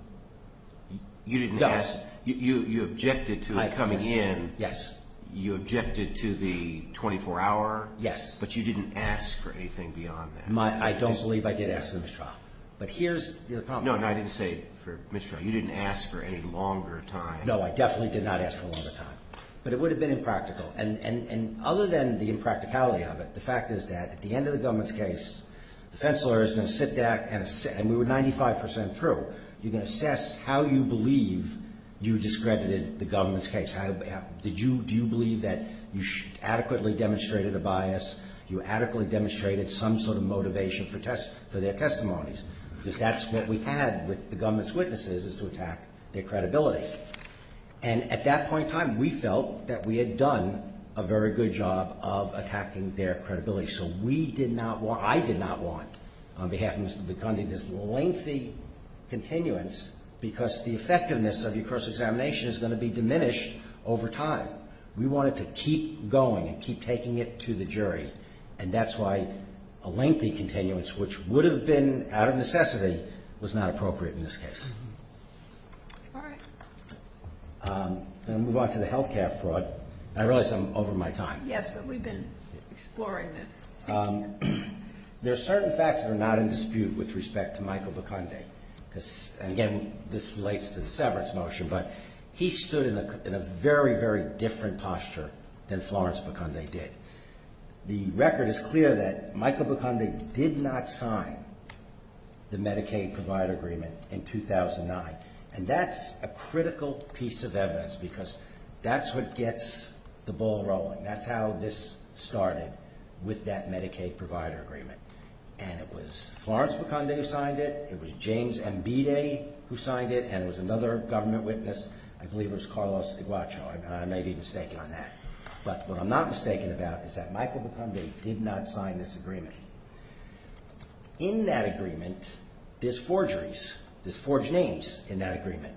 No. You objected to it coming in. Yes. You objected to the 24 hour. Yes. But you didn't ask for anything beyond that. I don't believe I did ask for a mistrial. But here's the problem. No, and I didn't say for a mistrial. You didn't ask for a longer time. No, I definitely did not ask for a longer time. But it would have been impractical. And other than the impracticality of it, the fact is that at the end of the government's case, the defense lawyer is going to sit back and say, and we were 95% through, you're going to assess how you believe you discredited the government's case. Did you believe that you adequately demonstrated a bias? You adequately demonstrated some sort of motivation for their testimonies? Because that's what we had with the government's witnesses is to attack their credibility. And at that point in time, we felt that we had done a very good job of attacking their credibility. So we did not want, I did not want, on behalf of Mr. DeConde, this lengthy continuance, because the effectiveness of your cross-examination is going to be diminished over time. We wanted to keep going, keep taking it to the jury. And that's why a lengthy continuance, which would have been out of necessity, was not appropriate in this case. All right. I'm going to move on to the health care fraud. I realize I'm over my time. Yes, but we've been exploring this. There are certain facts that are not in dispute with respect to Michael DeConde. And again, this relates to the severance motion, but he stood in a very, very different posture than Florence DeConde did. The record is clear that Michael DeConde did not sign the Medicaid provider agreement in 2009. And that's a critical piece of evidence, because that's what gets the ball rolling. That's how this started, with that Medicaid provider agreement. And it was Florence DeConde who signed it. It was James Ambide who signed it. And it was another government witness. I believe it was Carlos Iguachon. I may be mistaken on that. But what I'm not mistaken about is that Michael DeConde did not sign this agreement. In that agreement, there's forgeries. There's forged names in that agreement.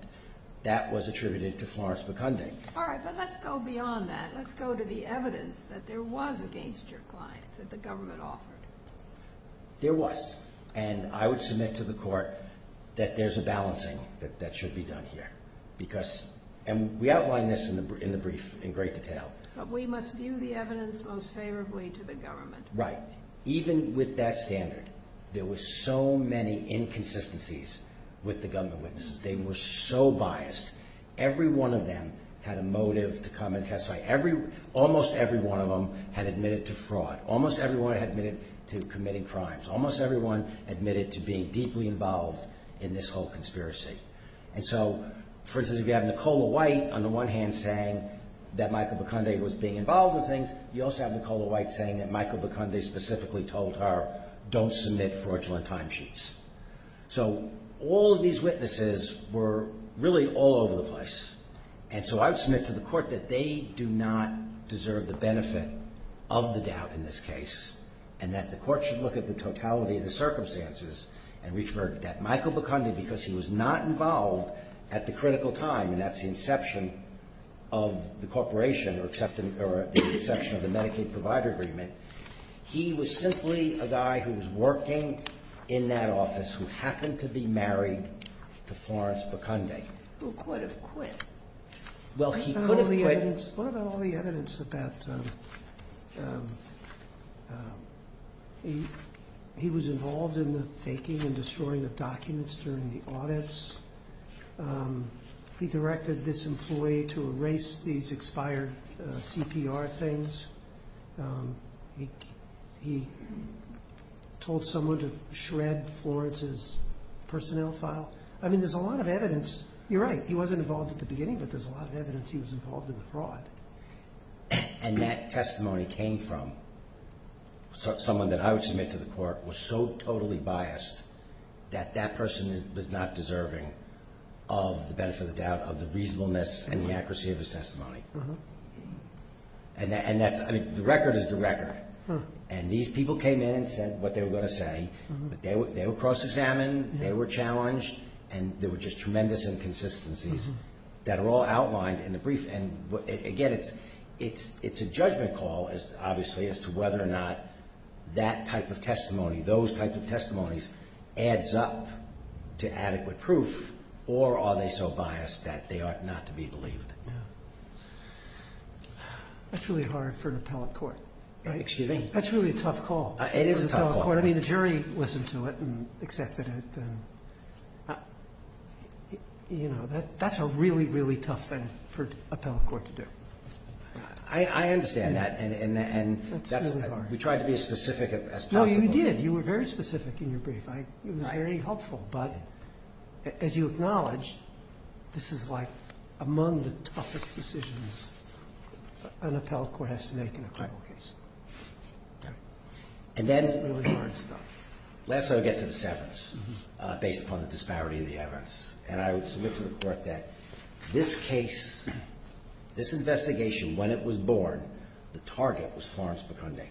That was attributed to Florence DeConde. All right, but let's go beyond that. Let's go to the evidence that there was against your client that the government offered. There was. And I would submit to the court that there's a balancing that should be done here. And we outline this in the brief in great detail. But we must do the evidence most favorably to the government. Right. Even with that standard, there were so many inconsistencies with the government witnesses. They were so biased. Every one of them had a motive to come and testify. Almost every one of them had admitted to fraud. Almost everyone had admitted to committing crimes. Almost everyone admitted to being deeply involved in this whole conspiracy. And so, for instance, if you have Nicola White, on the one hand, saying that Michael DeConde was being involved in things, you also have Nicola White saying that Michael DeConde specifically told her, don't submit fraudulent timesheets. So all of these witnesses were really all over the place. And so I would submit to the court that they do not deserve the benefit of the doubt in this case. And that the court should look at the totality of the circumstances and refer that Michael DeConde, because he was not involved at the critical time, that's the inception of the corporation, or the inception of the Medicaid provider agreement. He was simply a guy who was working in that office who happened to be married to Florence Baconde. Who could have quit. Well, he could have quit. What about all the evidence that he was involved in the faking and destroying of documents during the audits? He directed this employee to erase these expired CPR things. He told someone to shred Florence's personnel file. I mean, there's a lot of evidence. You're right, he wasn't involved at the beginning, but there's a lot of evidence he was involved in the fraud. And that testimony came from someone that I would submit to the court was so totally biased that that person was not deserving of the benefit of the doubt, of the reasonableness and the accuracy of the testimony. And the record is the record. And these people came in and said what they were going to say. They were cross-examined, they were challenged, and there were just tremendous inconsistencies that are all outlined in the brief. And again, it's a judgment call, obviously, as to whether or not that type of testimony, those types of testimonies, adds up to adequate proof, or are they so biased that they are not to be believed. That's really hard for an appellate court. Excuse me? That's really a tough call. It is a tough call. I mean, the jury listened to it and accepted it. You know, that's a really, really tough thing for an appellate court to do. I understand that. And we tried to be as specific as possible. No, you did. You were very specific in your brief. It was very helpful. But as you acknowledged, this is like among the toughest decisions an appellate court has to make in a criminal case. And then, last I'll get to the seventh, based upon the disparity in the evidence. And I would submit to the court that this case, this investigation, when it was born, the target was Florence McCondick.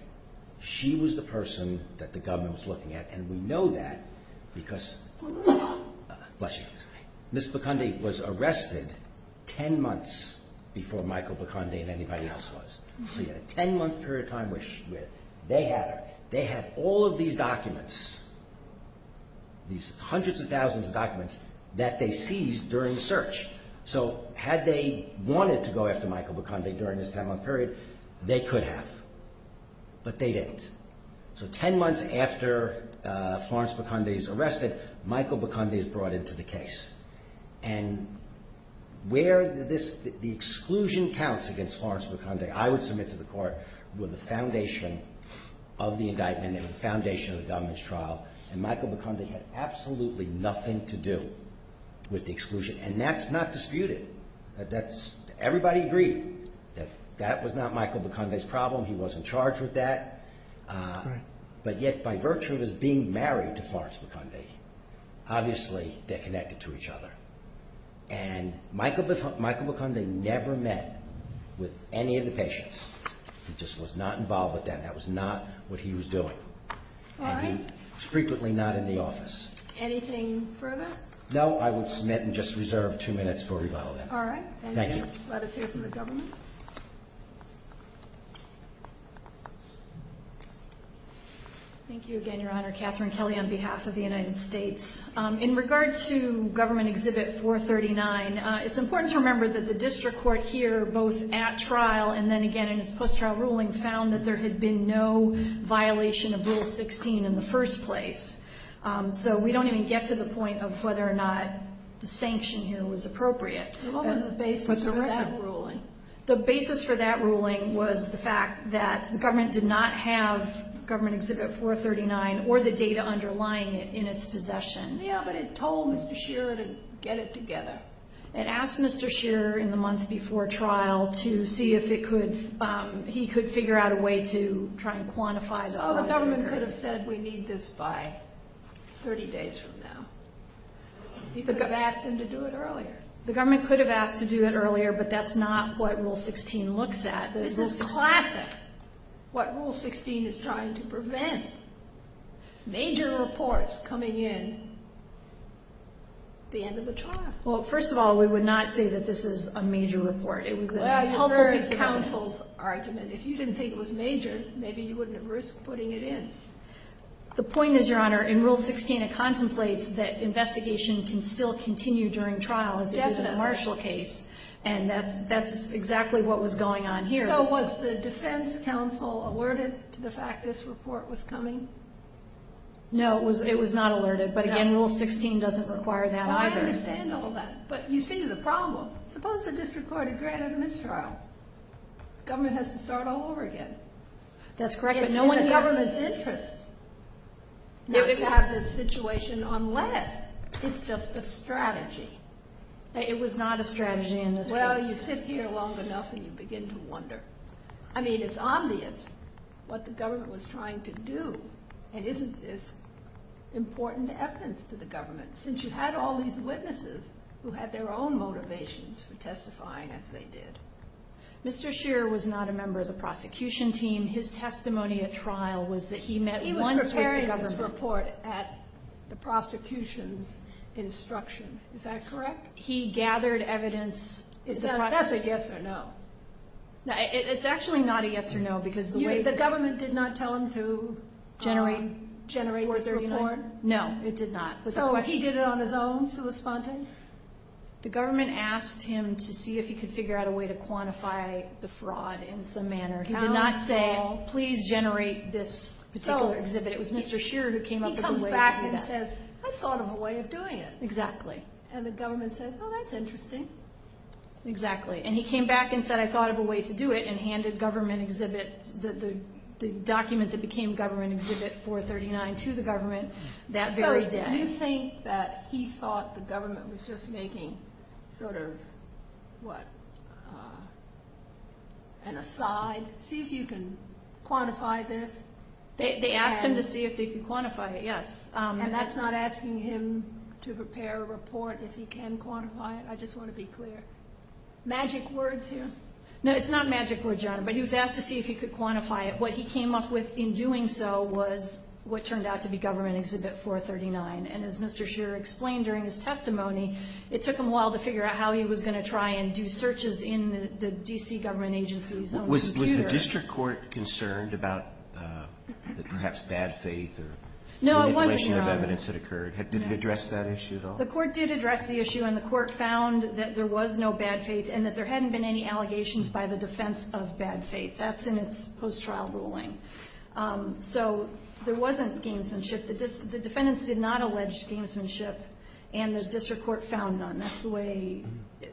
She was the person that the government was looking at. And we know that because... Bless you. Ms. McCondick was arrested ten months before Michael McCondick and anybody else was. So you had a ten-month period of time where they had her. They had all of these documents, these hundreds of thousands of documents, that they seized during the search. So had they wanted to go after Michael McCondick during this ten-month period, they could have. But they didn't. So ten months after Florence McCondick is arrested, Michael McCondick is brought into the case. And where the exclusion counts against Florence McCondick, I would submit to the court, were the foundation of the indictment and the foundation of the government's trial. And Michael McCondick had absolutely nothing to do with the exclusion. And that's not disputed. Everybody agreed that that was not Michael McCondick's problem. He wasn't charged with that. But yet, by virtue of his being married to Florence McCondick, obviously they're connected to each other. And Michael McCondick never met with any of the patients. He just was not involved with them. That was not what he was doing. All right. Frequently not in the office. Anything further? No, I would submit and just reserve two minutes for rebuttal. All right. Thank you. Let us hear from the government. Thank you again, Your Honor. Catherine Kelly on behalf of the United States. In regard to Government Exhibit 439, it's important to remember that the district court here, both at trial and then again in its post-trial ruling, found that there had been no violation of Rule 16 in the first place. So we don't even get to the point of whether or not the sanction here was appropriate. What was the basis for that ruling? The basis for that ruling was the fact that the government did not have Government Exhibit 439 or the data underlying it in its possession. Yeah, but it told Mr. Shearer to get it together. It asked Mr. Shearer in the months before trial to see if he could figure out a way to try and quantify the other data. The government could have said, we need this by 30 days from now. You could have asked him to do it earlier. The government could have asked to do it earlier, but that's not what Rule 16 looks at. This is classic. What Rule 16 is trying to prevent. Major reports coming in at the end of the trial. Well, first of all, we would not say that this is a major report. That's the counsel's argument. If you didn't think it was major, maybe you wouldn't have risked putting it in. The point is, Your Honor, in Rule 16, it contemplates that investigation can still continue during trial because it's a marshal case. And that's exactly what was going on here. So was the defense counsel alerted to the fact this report was coming? No, it was not alerted. But again, Rule 16 doesn't require that either. I understand all that. But you see the problem. Suppose we just record a granted mistrial. Government has to start all over again. That's correct. If no one has government's interest, we would have this situation unless it's just a strategy. It was not a strategy in this case. Well, you sit here long enough and you begin to wonder. I mean, it's obvious what the government was trying to do. And isn't this important evidence to the government? Since you had all these witnesses who had their own motivations for testifying as they did. Mr. Shearer was not a member of the prosecution team. His testimony at trial was that he met one... He was preparing this report at the prosecution's instruction. Is that correct? He gathered evidence... That's a yes or no. It's actually not a yes or no because... The government did not tell him to generate the report? No, it did not. So he did it on his own to respond to it? The government asked him to see if he could figure out a way to quantify the fraud in some manner. He did not say, please generate this particular exhibit. It was Mr. Shearer who came up with a way to do that. He comes back and says, I thought of a way of doing it. Exactly. And the government says, oh, that's interesting. Exactly. And he came back and said, I thought of a way to do it and handed government exhibit... The document that became government exhibit 439 to the government that very day. So you think that he thought the government was just making sort of... What? An aside? See if you can quantify this? They asked him to see if they could quantify it, yes. And that's not asking him to prepare a report that he can quantify it. I just want to be clear. Magic words here? No, it's not magic words, John. But he was asked to see if he could quantify it. What he came up with in doing so was what turned out to be government exhibit 439. And as Mr. Shearer explained during his testimony, it took him a while to figure out how he was going to try and do searches in the D.C. government agency's own computer. Was the district court concerned about perhaps bad faith? No, it wasn't, no. Did it address that issue at all? The court did address the issue, and the court found that there was no bad faith and that there hadn't been any allegations by the defense of bad faith. That's in its post-trial ruling. So there wasn't schemes and shifts. The defendants did not allege schemes and shifts, and the district court found none. That's the way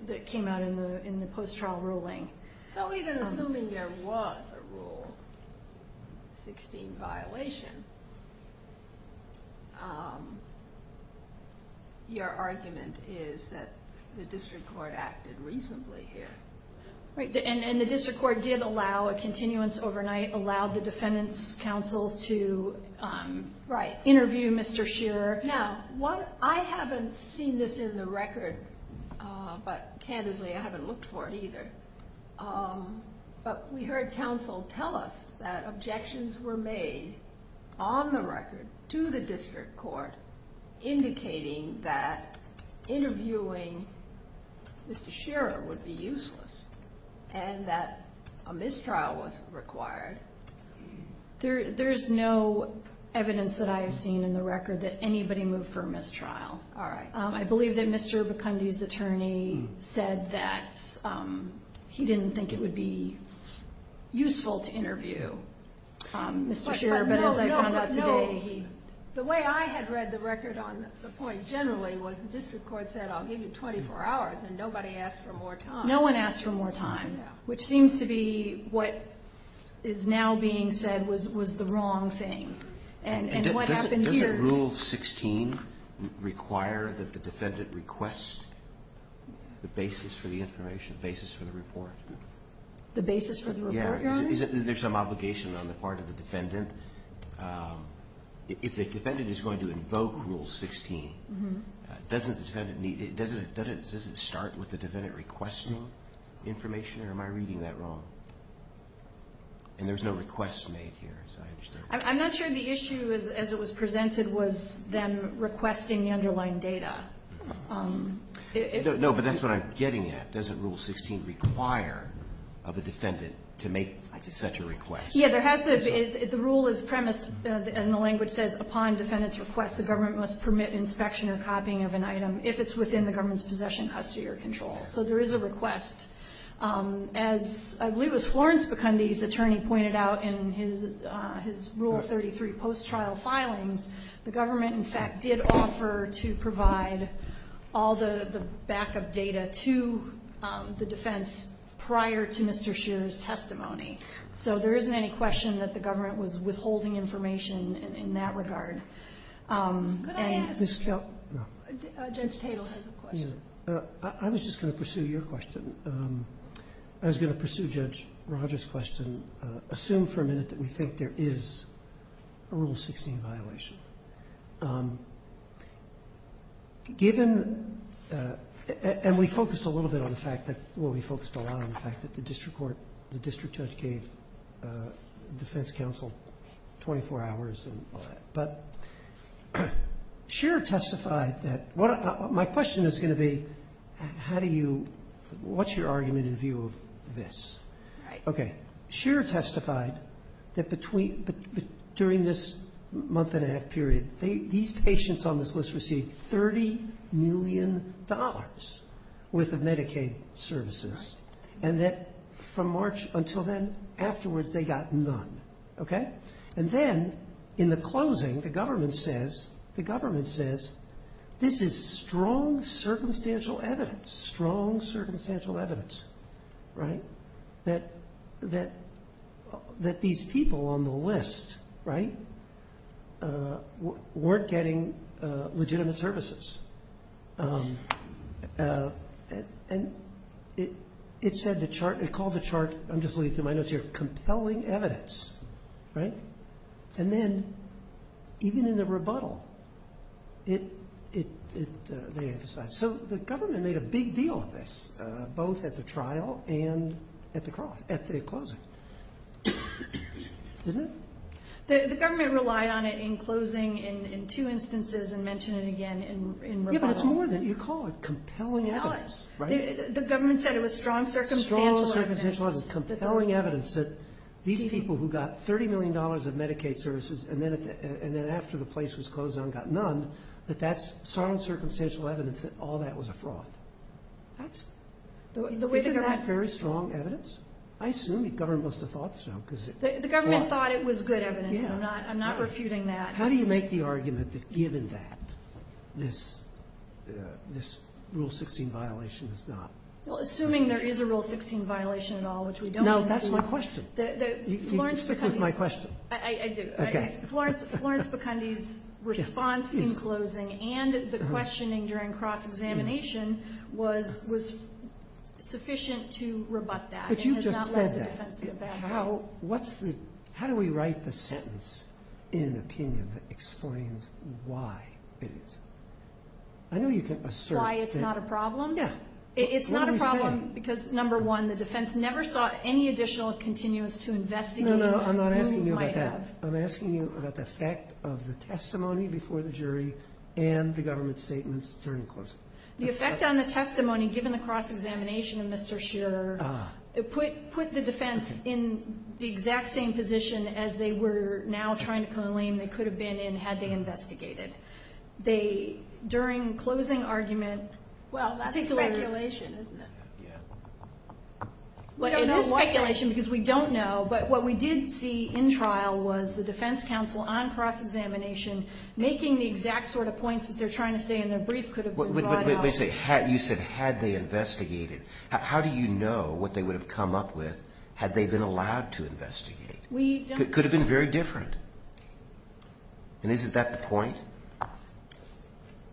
that came out in the post-trial ruling. So even assuming there was a Rule 16 violation, your argument is that the district court acted reasonably here. And the district court did allow a continuance overnight, allowed the defendant's counsel to interview Mr. Shearer. Now, I haven't seen this in the record, but candidly, I haven't looked for it either. But we heard counsel tell us that objections were made on the record to the district court indicating that interviewing Mr. Shearer would be useless and that a mistrial was required. There is no evidence that I have seen in the record that anybody moved for a mistrial. All right. I believe that Mr. Bakundi's attorney said that he didn't think it would be useful to interview Mr. Shearer. No. The way I had read the record on the point generally was the district court set out maybe 24 hours, and nobody asked for more time. No one asked for more time, which seems to be what is now being said was the wrong thing. Doesn't Rule 16 require that the defendant request the basis for the information, basis for the report? The basis for the report? Yeah. There's some obligation on the part of the defendant. If the defendant is going to invoke Rule 16, doesn't it start with the defendant requesting information, or am I reading that wrong? And there's no request made here, so I understand. I'm not sure the issue as it was presented was them requesting the underlying data. No, but that's what I'm getting at. Doesn't Rule 16 require of a defendant to make such a request? Yeah. The rule is premised, and the language says, upon defendant's request, the government must permit inspection or copying of an item if it's within the government's possession, custody, or control. So there is a request. As Louis Florence Bakundi's attorney pointed out in his Rule 33 post-trial filings, the government, in fact, did offer to provide all the backup data to the defense prior to Mr. Hsu's testimony. So there isn't any question that the government was withholding information in that regard. But I had this question. Judge Tatel has a question. I was going to pursue Judge Rogers' question. Assume for a minute that we think there is a Rule 16 violation. And we focused a little bit on the fact that, well, we focused a lot on the fact that the district court, the district judge gave defense counsel 24 hours. But Hsu testified that, my question is going to be, how do you, what's your argument in view of this? Okay, Hsu testified that during this month and a half period, these patients on this list received $30 million worth of Medicaid services. And that from March until then, afterwards, they got none. Okay? And then, in the closing, the government says, the government says, this is strong circumstantial evidence. Strong circumstantial evidence. Right? That these people on the list, right, weren't getting legitimate services. And it said the chart, it called the chart, I'm just reading through my notes here, compelling evidence. Right? And then, even in the rebuttal, it emphasized. So the government made a big deal of this, both at the trial and at the closing. Didn't it? The government relied on it in closing in two instances and mentioned it again in rebuttal. Yeah, but it's more than, you call it compelling evidence. It was. The government said it was strong circumstantial evidence. Strong circumstantial evidence, compelling evidence, that these people who got $30 million of Medicaid services and then after the place was closed down got none, that that's strong circumstantial evidence that all that was a fraud. Isn't that very strong evidence? I assume the government must have thought so. The government thought it was good evidence. I'm not refuting that. How do you make the argument that given that, this Rule 16 violation is not? Well, assuming there is a Rule 16 violation at all, which we don't know. No, that's my question. You're sticking with my question. I did. Florence Bukundy's response in closing and the questioning during cross-examination was sufficient to rebut that. But you just said that. How do we write the sentence in an opinion that explains why it is? I know you can assert that. Why it's not a problem? Yeah. It's not a problem because, number one, the defense never sought any additional continuance to investigate. No, no, I'm not asking you about that. I'm asking you about the fact of the testimony before the jury and the government's statements during the closing. The effect on the testimony given the cross-examination in Mr. Scheer put the defense in the exact same position as they were now trying to claim they could have been had they investigated. They, during closing argument, Well, that's a speculation, isn't it? Yeah. Well, it's a speculation because we don't know. But what we did see in trial was the defense counsel on cross-examination making the exact sort of points that they're trying to say in their brief could have been brought up. But you said had they investigated. How do you know what they would have come up with had they been allowed to investigate? It could have been very different. And isn't that the point?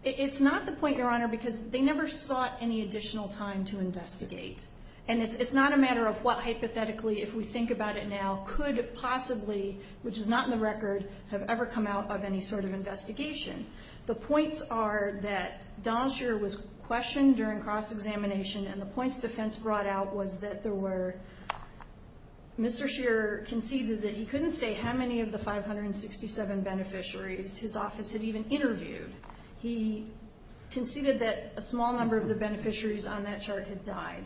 It's not the point, Your Honor, because they never sought any additional time to investigate. And it's not a matter of what, hypothetically, if we think about it now, could possibly, which is not in the record, have ever come out of any sort of investigation. The points are that Donald Scheer was questioned during cross-examination, and the points the defense brought out was that there were, Mr. Scheer conceded that he couldn't say how many of the 567 beneficiaries his office had even interviewed. He conceded that a small number of the beneficiaries on that chart had died.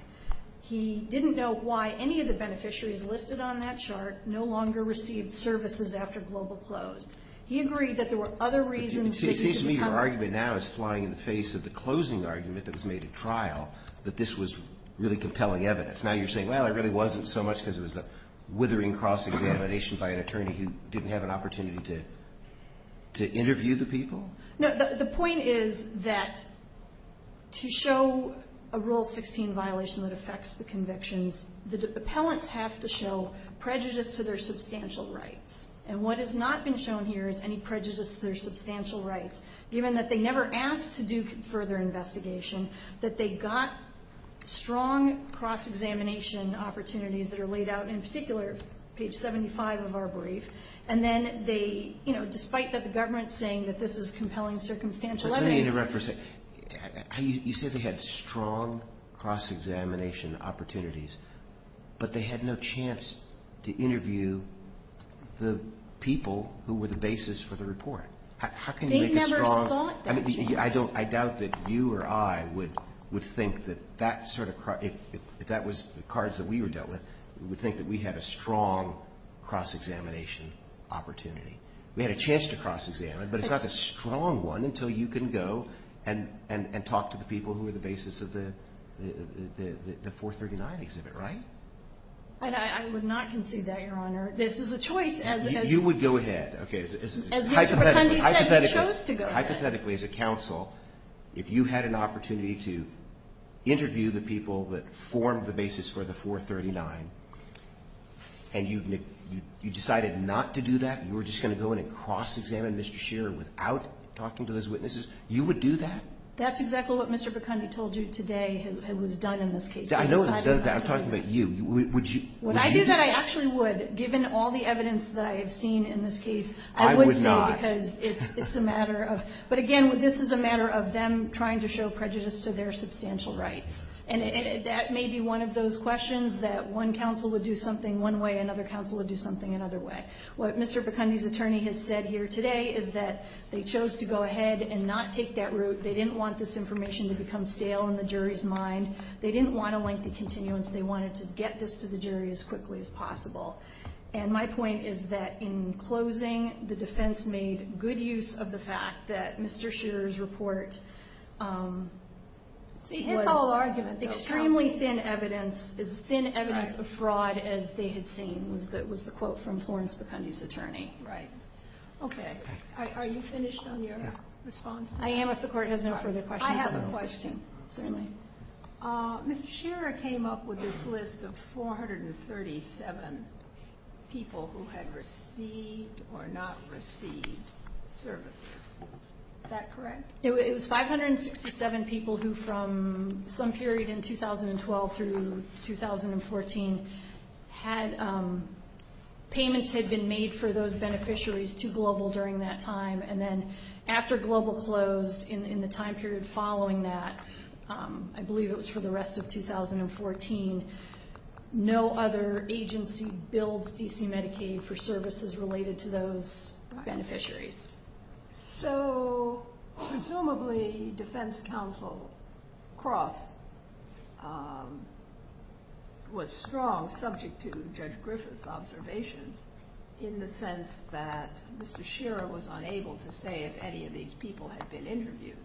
He didn't know why any of the beneficiaries listed on that chart no longer received services after Global closed. He agreed that there were other reasons. It seems to me your argument now is flying in the face of the closing argument that was made at trial, that this was really compelling evidence. Now you're saying, well, it really wasn't so much because it was a withering cross-examination by an attorney who didn't have an opportunity to interview the people? No, the point is that to show a Rule 16 violation that affects the convictions, the appellants have to show prejudice to their substantial rights. And what has not been shown here is any prejudice to their substantial rights, given that they never asked to do further investigation, that they got strong cross-examination opportunities that are laid out, and in particular, page 75 of our brief, and then they, you know, despite the government saying that this is compelling circumstantial evidence... You said they had strong cross-examination opportunities but they had no chance to interview the people who were the basis for the report. How can you make a strong... I doubt that you or I would think that that sort of... If that was the cards that we were dealt with, we would think that we had a strong cross-examination opportunity. We had a chance to cross-examine, but it's not a strong one until you can go and talk to the people who were the basis of the 439 exhibit, right? I would not concede that, Your Honor. This is a choice, as... You would go ahead, okay. Hypothetically, as a counsel, if you had an opportunity to interview the people that formed the basis for the 439, and you decided not to do that, you were just going to go in and cross-examine Mr. Shearer without talking to his witnesses, you would do that? That's exactly what Mr. Bicondi told you today and was done in this case. I know it was done, but I'm talking about you. Would you... When I do that, I actually would, given all the evidence that I've seen in this case. I would not. It's a matter of... But again, this is a matter of them trying to show prejudice to their substantial right. And that may be one of those questions that one counsel would do something one way, another counsel would do something another way. What Mr. Bicondi's attorney has said here today is that they chose to go ahead and not take that route. They didn't want this information to become stale in the jury's mind. They didn't want a lengthy continuance. They wanted to get this to the jury as quickly as possible. And my point is that in closing, the defense made good use of the fact that Mr. Shearer's report... It's all argument, though. Extremely thin evidence, as thin evidence of fraud as they had seen, was the quote from Florence Bicondi's attorney. Right. Okay. Are you finished on your response? I am, if the court has no further questions. I have a question. Mr. Shearer came up with this list of 437 people who had received or not received service. Is that correct? It was 567 people who, from some period in 2012 through 2014, had... Payments had been made for those beneficiaries to Global during that time. And then, after Global closed, in the time period following that, I believe it was for the rest of 2014, no other agency billed D.C. Medicaid for services related to those beneficiaries. So, presumably, Defense Counsel Cross was strong, subject to Judge Griffith's observations, in the sense that Mr. Shearer was unable to say if any of these people had been interviewed.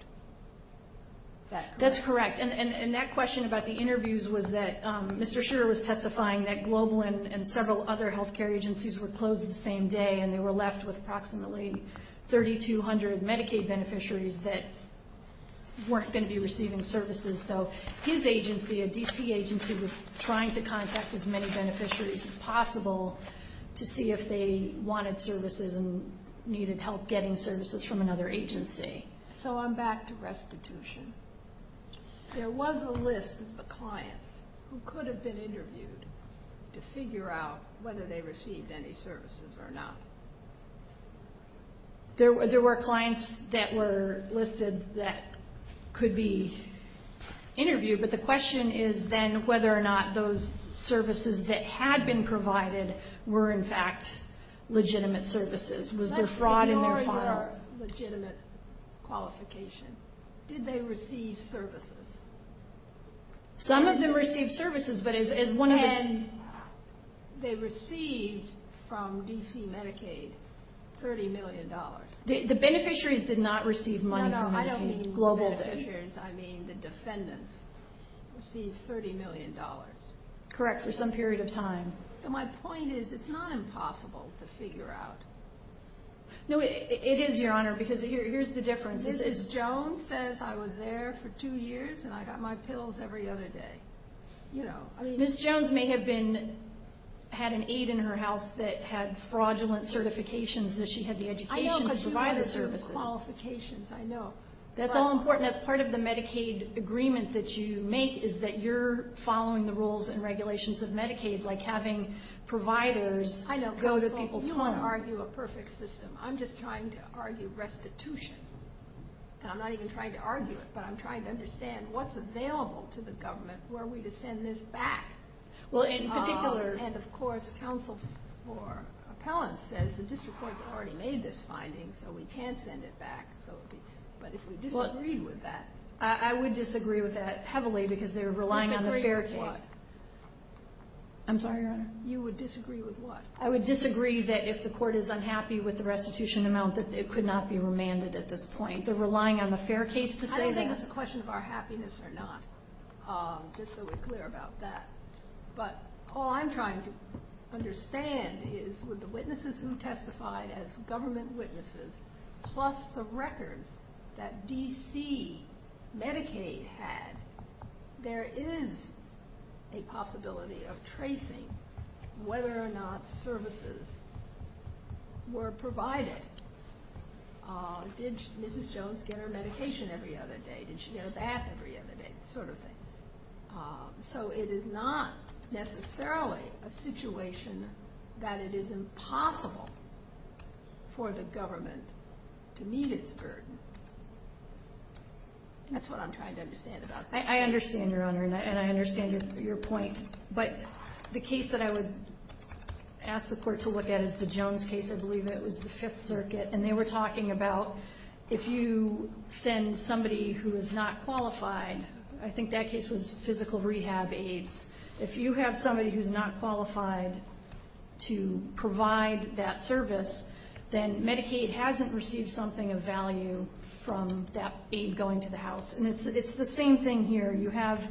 That's correct. And that question about the interviews was that Mr. Shearer was testifying that Global and several other health care agencies were closed the same day, and they were left with approximately 3,200 Medicaid beneficiaries that weren't going to be receiving services. So, his agency, a D.C. agency, was trying to contact as many beneficiaries as possible to see if they wanted services and needed help getting services from another agency. So, I'm back to restitution. There was a list of clients who could have been interviewed to figure out whether they received any services or not. There were clients that were listed that could be interviewed, but the question is then whether or not those services that had been provided were, in fact, legitimate services. Was there fraud in their files? No, but they are a legitimate qualification. Did they receive services? Some of them received services, but as one of the... And they received from D.C. Medicaid $30 million. The beneficiaries did not receive money from the Global... No, no, I don't mean the beneficiaries. I mean the defendants received $30 million. Correct, for some period of time. My point is it's not impossible to figure out. No, it is, Your Honor, because here's the difference. Mrs. Jones says I was there for two years and I got my pills every other day. Ms. Jones may have had an aide in her house that had fraudulent certifications that she had the education to provide the services. I know, because you have the qualifications, I know. That's all important. That's part of the Medicaid agreement that you make is that you're following the rules and regulations of Medicaid, like having providers go to people's homes. I know, but you don't want to argue a perfect system. I'm just trying to argue restitution. And I'm not even trying to argue it, but I'm trying to understand what's available to the government. Where are we to send this back? Well, in particular... And, of course, counsel for appellants says, the district court has already made this finding, so we can send it back. But if we disagree with that... I would disagree with that heavily because they're relying on the fair case. I'm sorry, Your Honor? You would disagree with what? I would disagree that if the court is unhappy with the restitution amount, that it could not be remanded at this point. They're relying on the fair case to say that. I don't think the question is our happiness or not, just so we're clear about that. But all I'm trying to understand is, would the witnesses who testified as government witnesses plus the records that D.C. Medicaid had, there is a possibility of tracing whether or not services were provided. Did Mrs. Jones get her medication every other day? Did she get a bath every other day? That sort of thing. So it is not necessarily a situation that it is impossible for the government to meet its burden. That's what I'm trying to understand about that. I understand, Your Honor, and I understand your point. But the case that I would ask the court to look at is the Jones case. I believe that was the Fifth Circuit, and they were talking about if you send somebody who is not qualified, I think that case was physical rehab aides, if you have somebody who is not qualified to provide that service, then Medicaid hasn't received something of value from that aide going to the house. And it's the same thing here. You have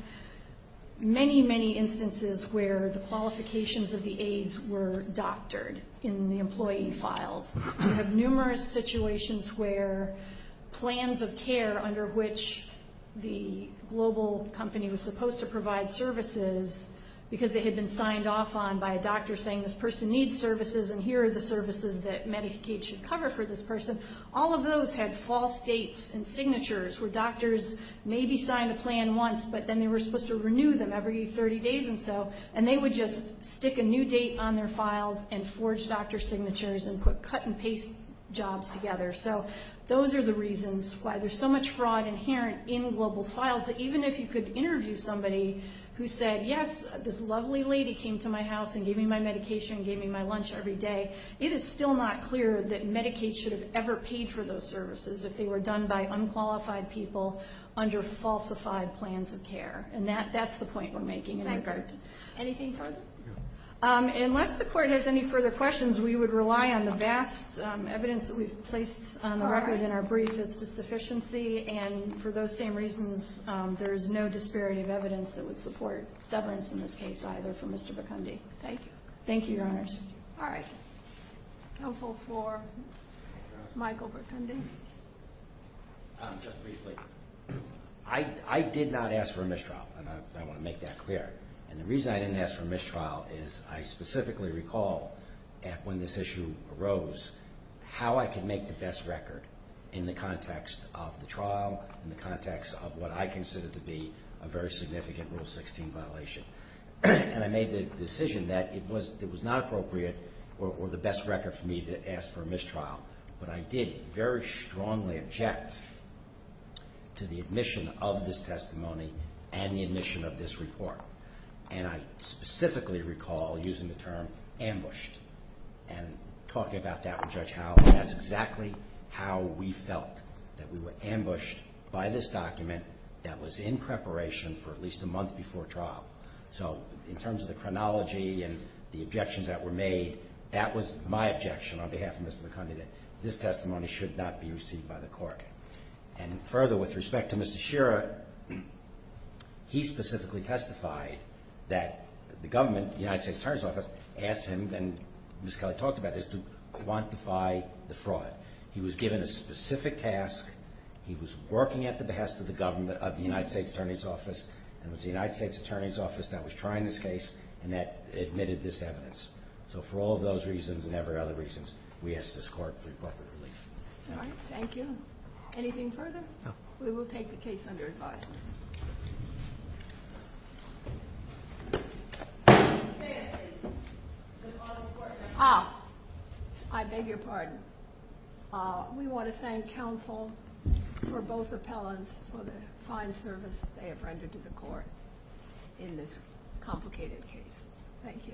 many, many instances where the qualifications of the aides were doctored in the employee file. You have numerous situations where plans of care under which the global company was supposed to provide services because they had been signed off on by a doctor saying this person needs services and here are the services that Medicaid should cover for this person. All of those had false dates and signatures where doctors maybe signed a plan once, but then they were supposed to renew them every 30 days or so, and they would just stick a new date on their files and forge doctor signatures and put cut-and-paste jobs together. So those are the reasons why there's so much fraud inherent in global files that even if you could interview somebody who said, yes, this lovely lady came to my house and gave me my medication and gave me my lunch every day, it is still not clear that Medicaid should have ever paid for those services if they were done by unqualified people under falsified plans of care. And that's the point we're making. Thank you. Anything further? Unless the court has any further questions, we would rely on the vast evidence that we've placed on the record in our brief as the sufficiency, and for those same reasons, there is no disparity of evidence that would support severance in this case either for Mr. Bikundi. Thank you. Thank you, Your Honor. All right. Counsel for Michael Bikundi. Just briefly, I did not ask for a mistrial, and I want to make that clear. And the reason I didn't ask for a mistrial is I specifically recall that when this issue arose, how I can make the best record in the context of the trial, in the context of what I consider to be a very significant Rule 16 violation. And I made the decision that it was not appropriate or the best record for me to ask for a mistrial, but I did very strongly object to the admission of this testimony and the admission of this report. And I specifically recall using the term ambushed and talking about that with Judge Howell. That's exactly how we felt, that we were ambushed by this document that was in preparation for at least a month before trial. So in terms of the chronology and the objections that were made, that was my objection on behalf of Mr. Bikundi, that this testimony should not be received by the court. And further, with respect to Mr. Shearer, he specifically testified that the government, the United States Attorney's Office, asked him, and Ms. Kelly talked about this, to quantify the fraud. He was given a specific task, he was working at the behest of the government, of the United States Attorney's Office, and it was the United States Attorney's Office that was trying this case and that admitted this evidence. So for all those reasons and every other reasons, we ask this court to report the release. All right, thank you. Anything further? We will take the case under review. Ah, I beg your pardon. We want to thank counsel for both appellants for the fine service they have rendered to the court in this complicated case. Thank you.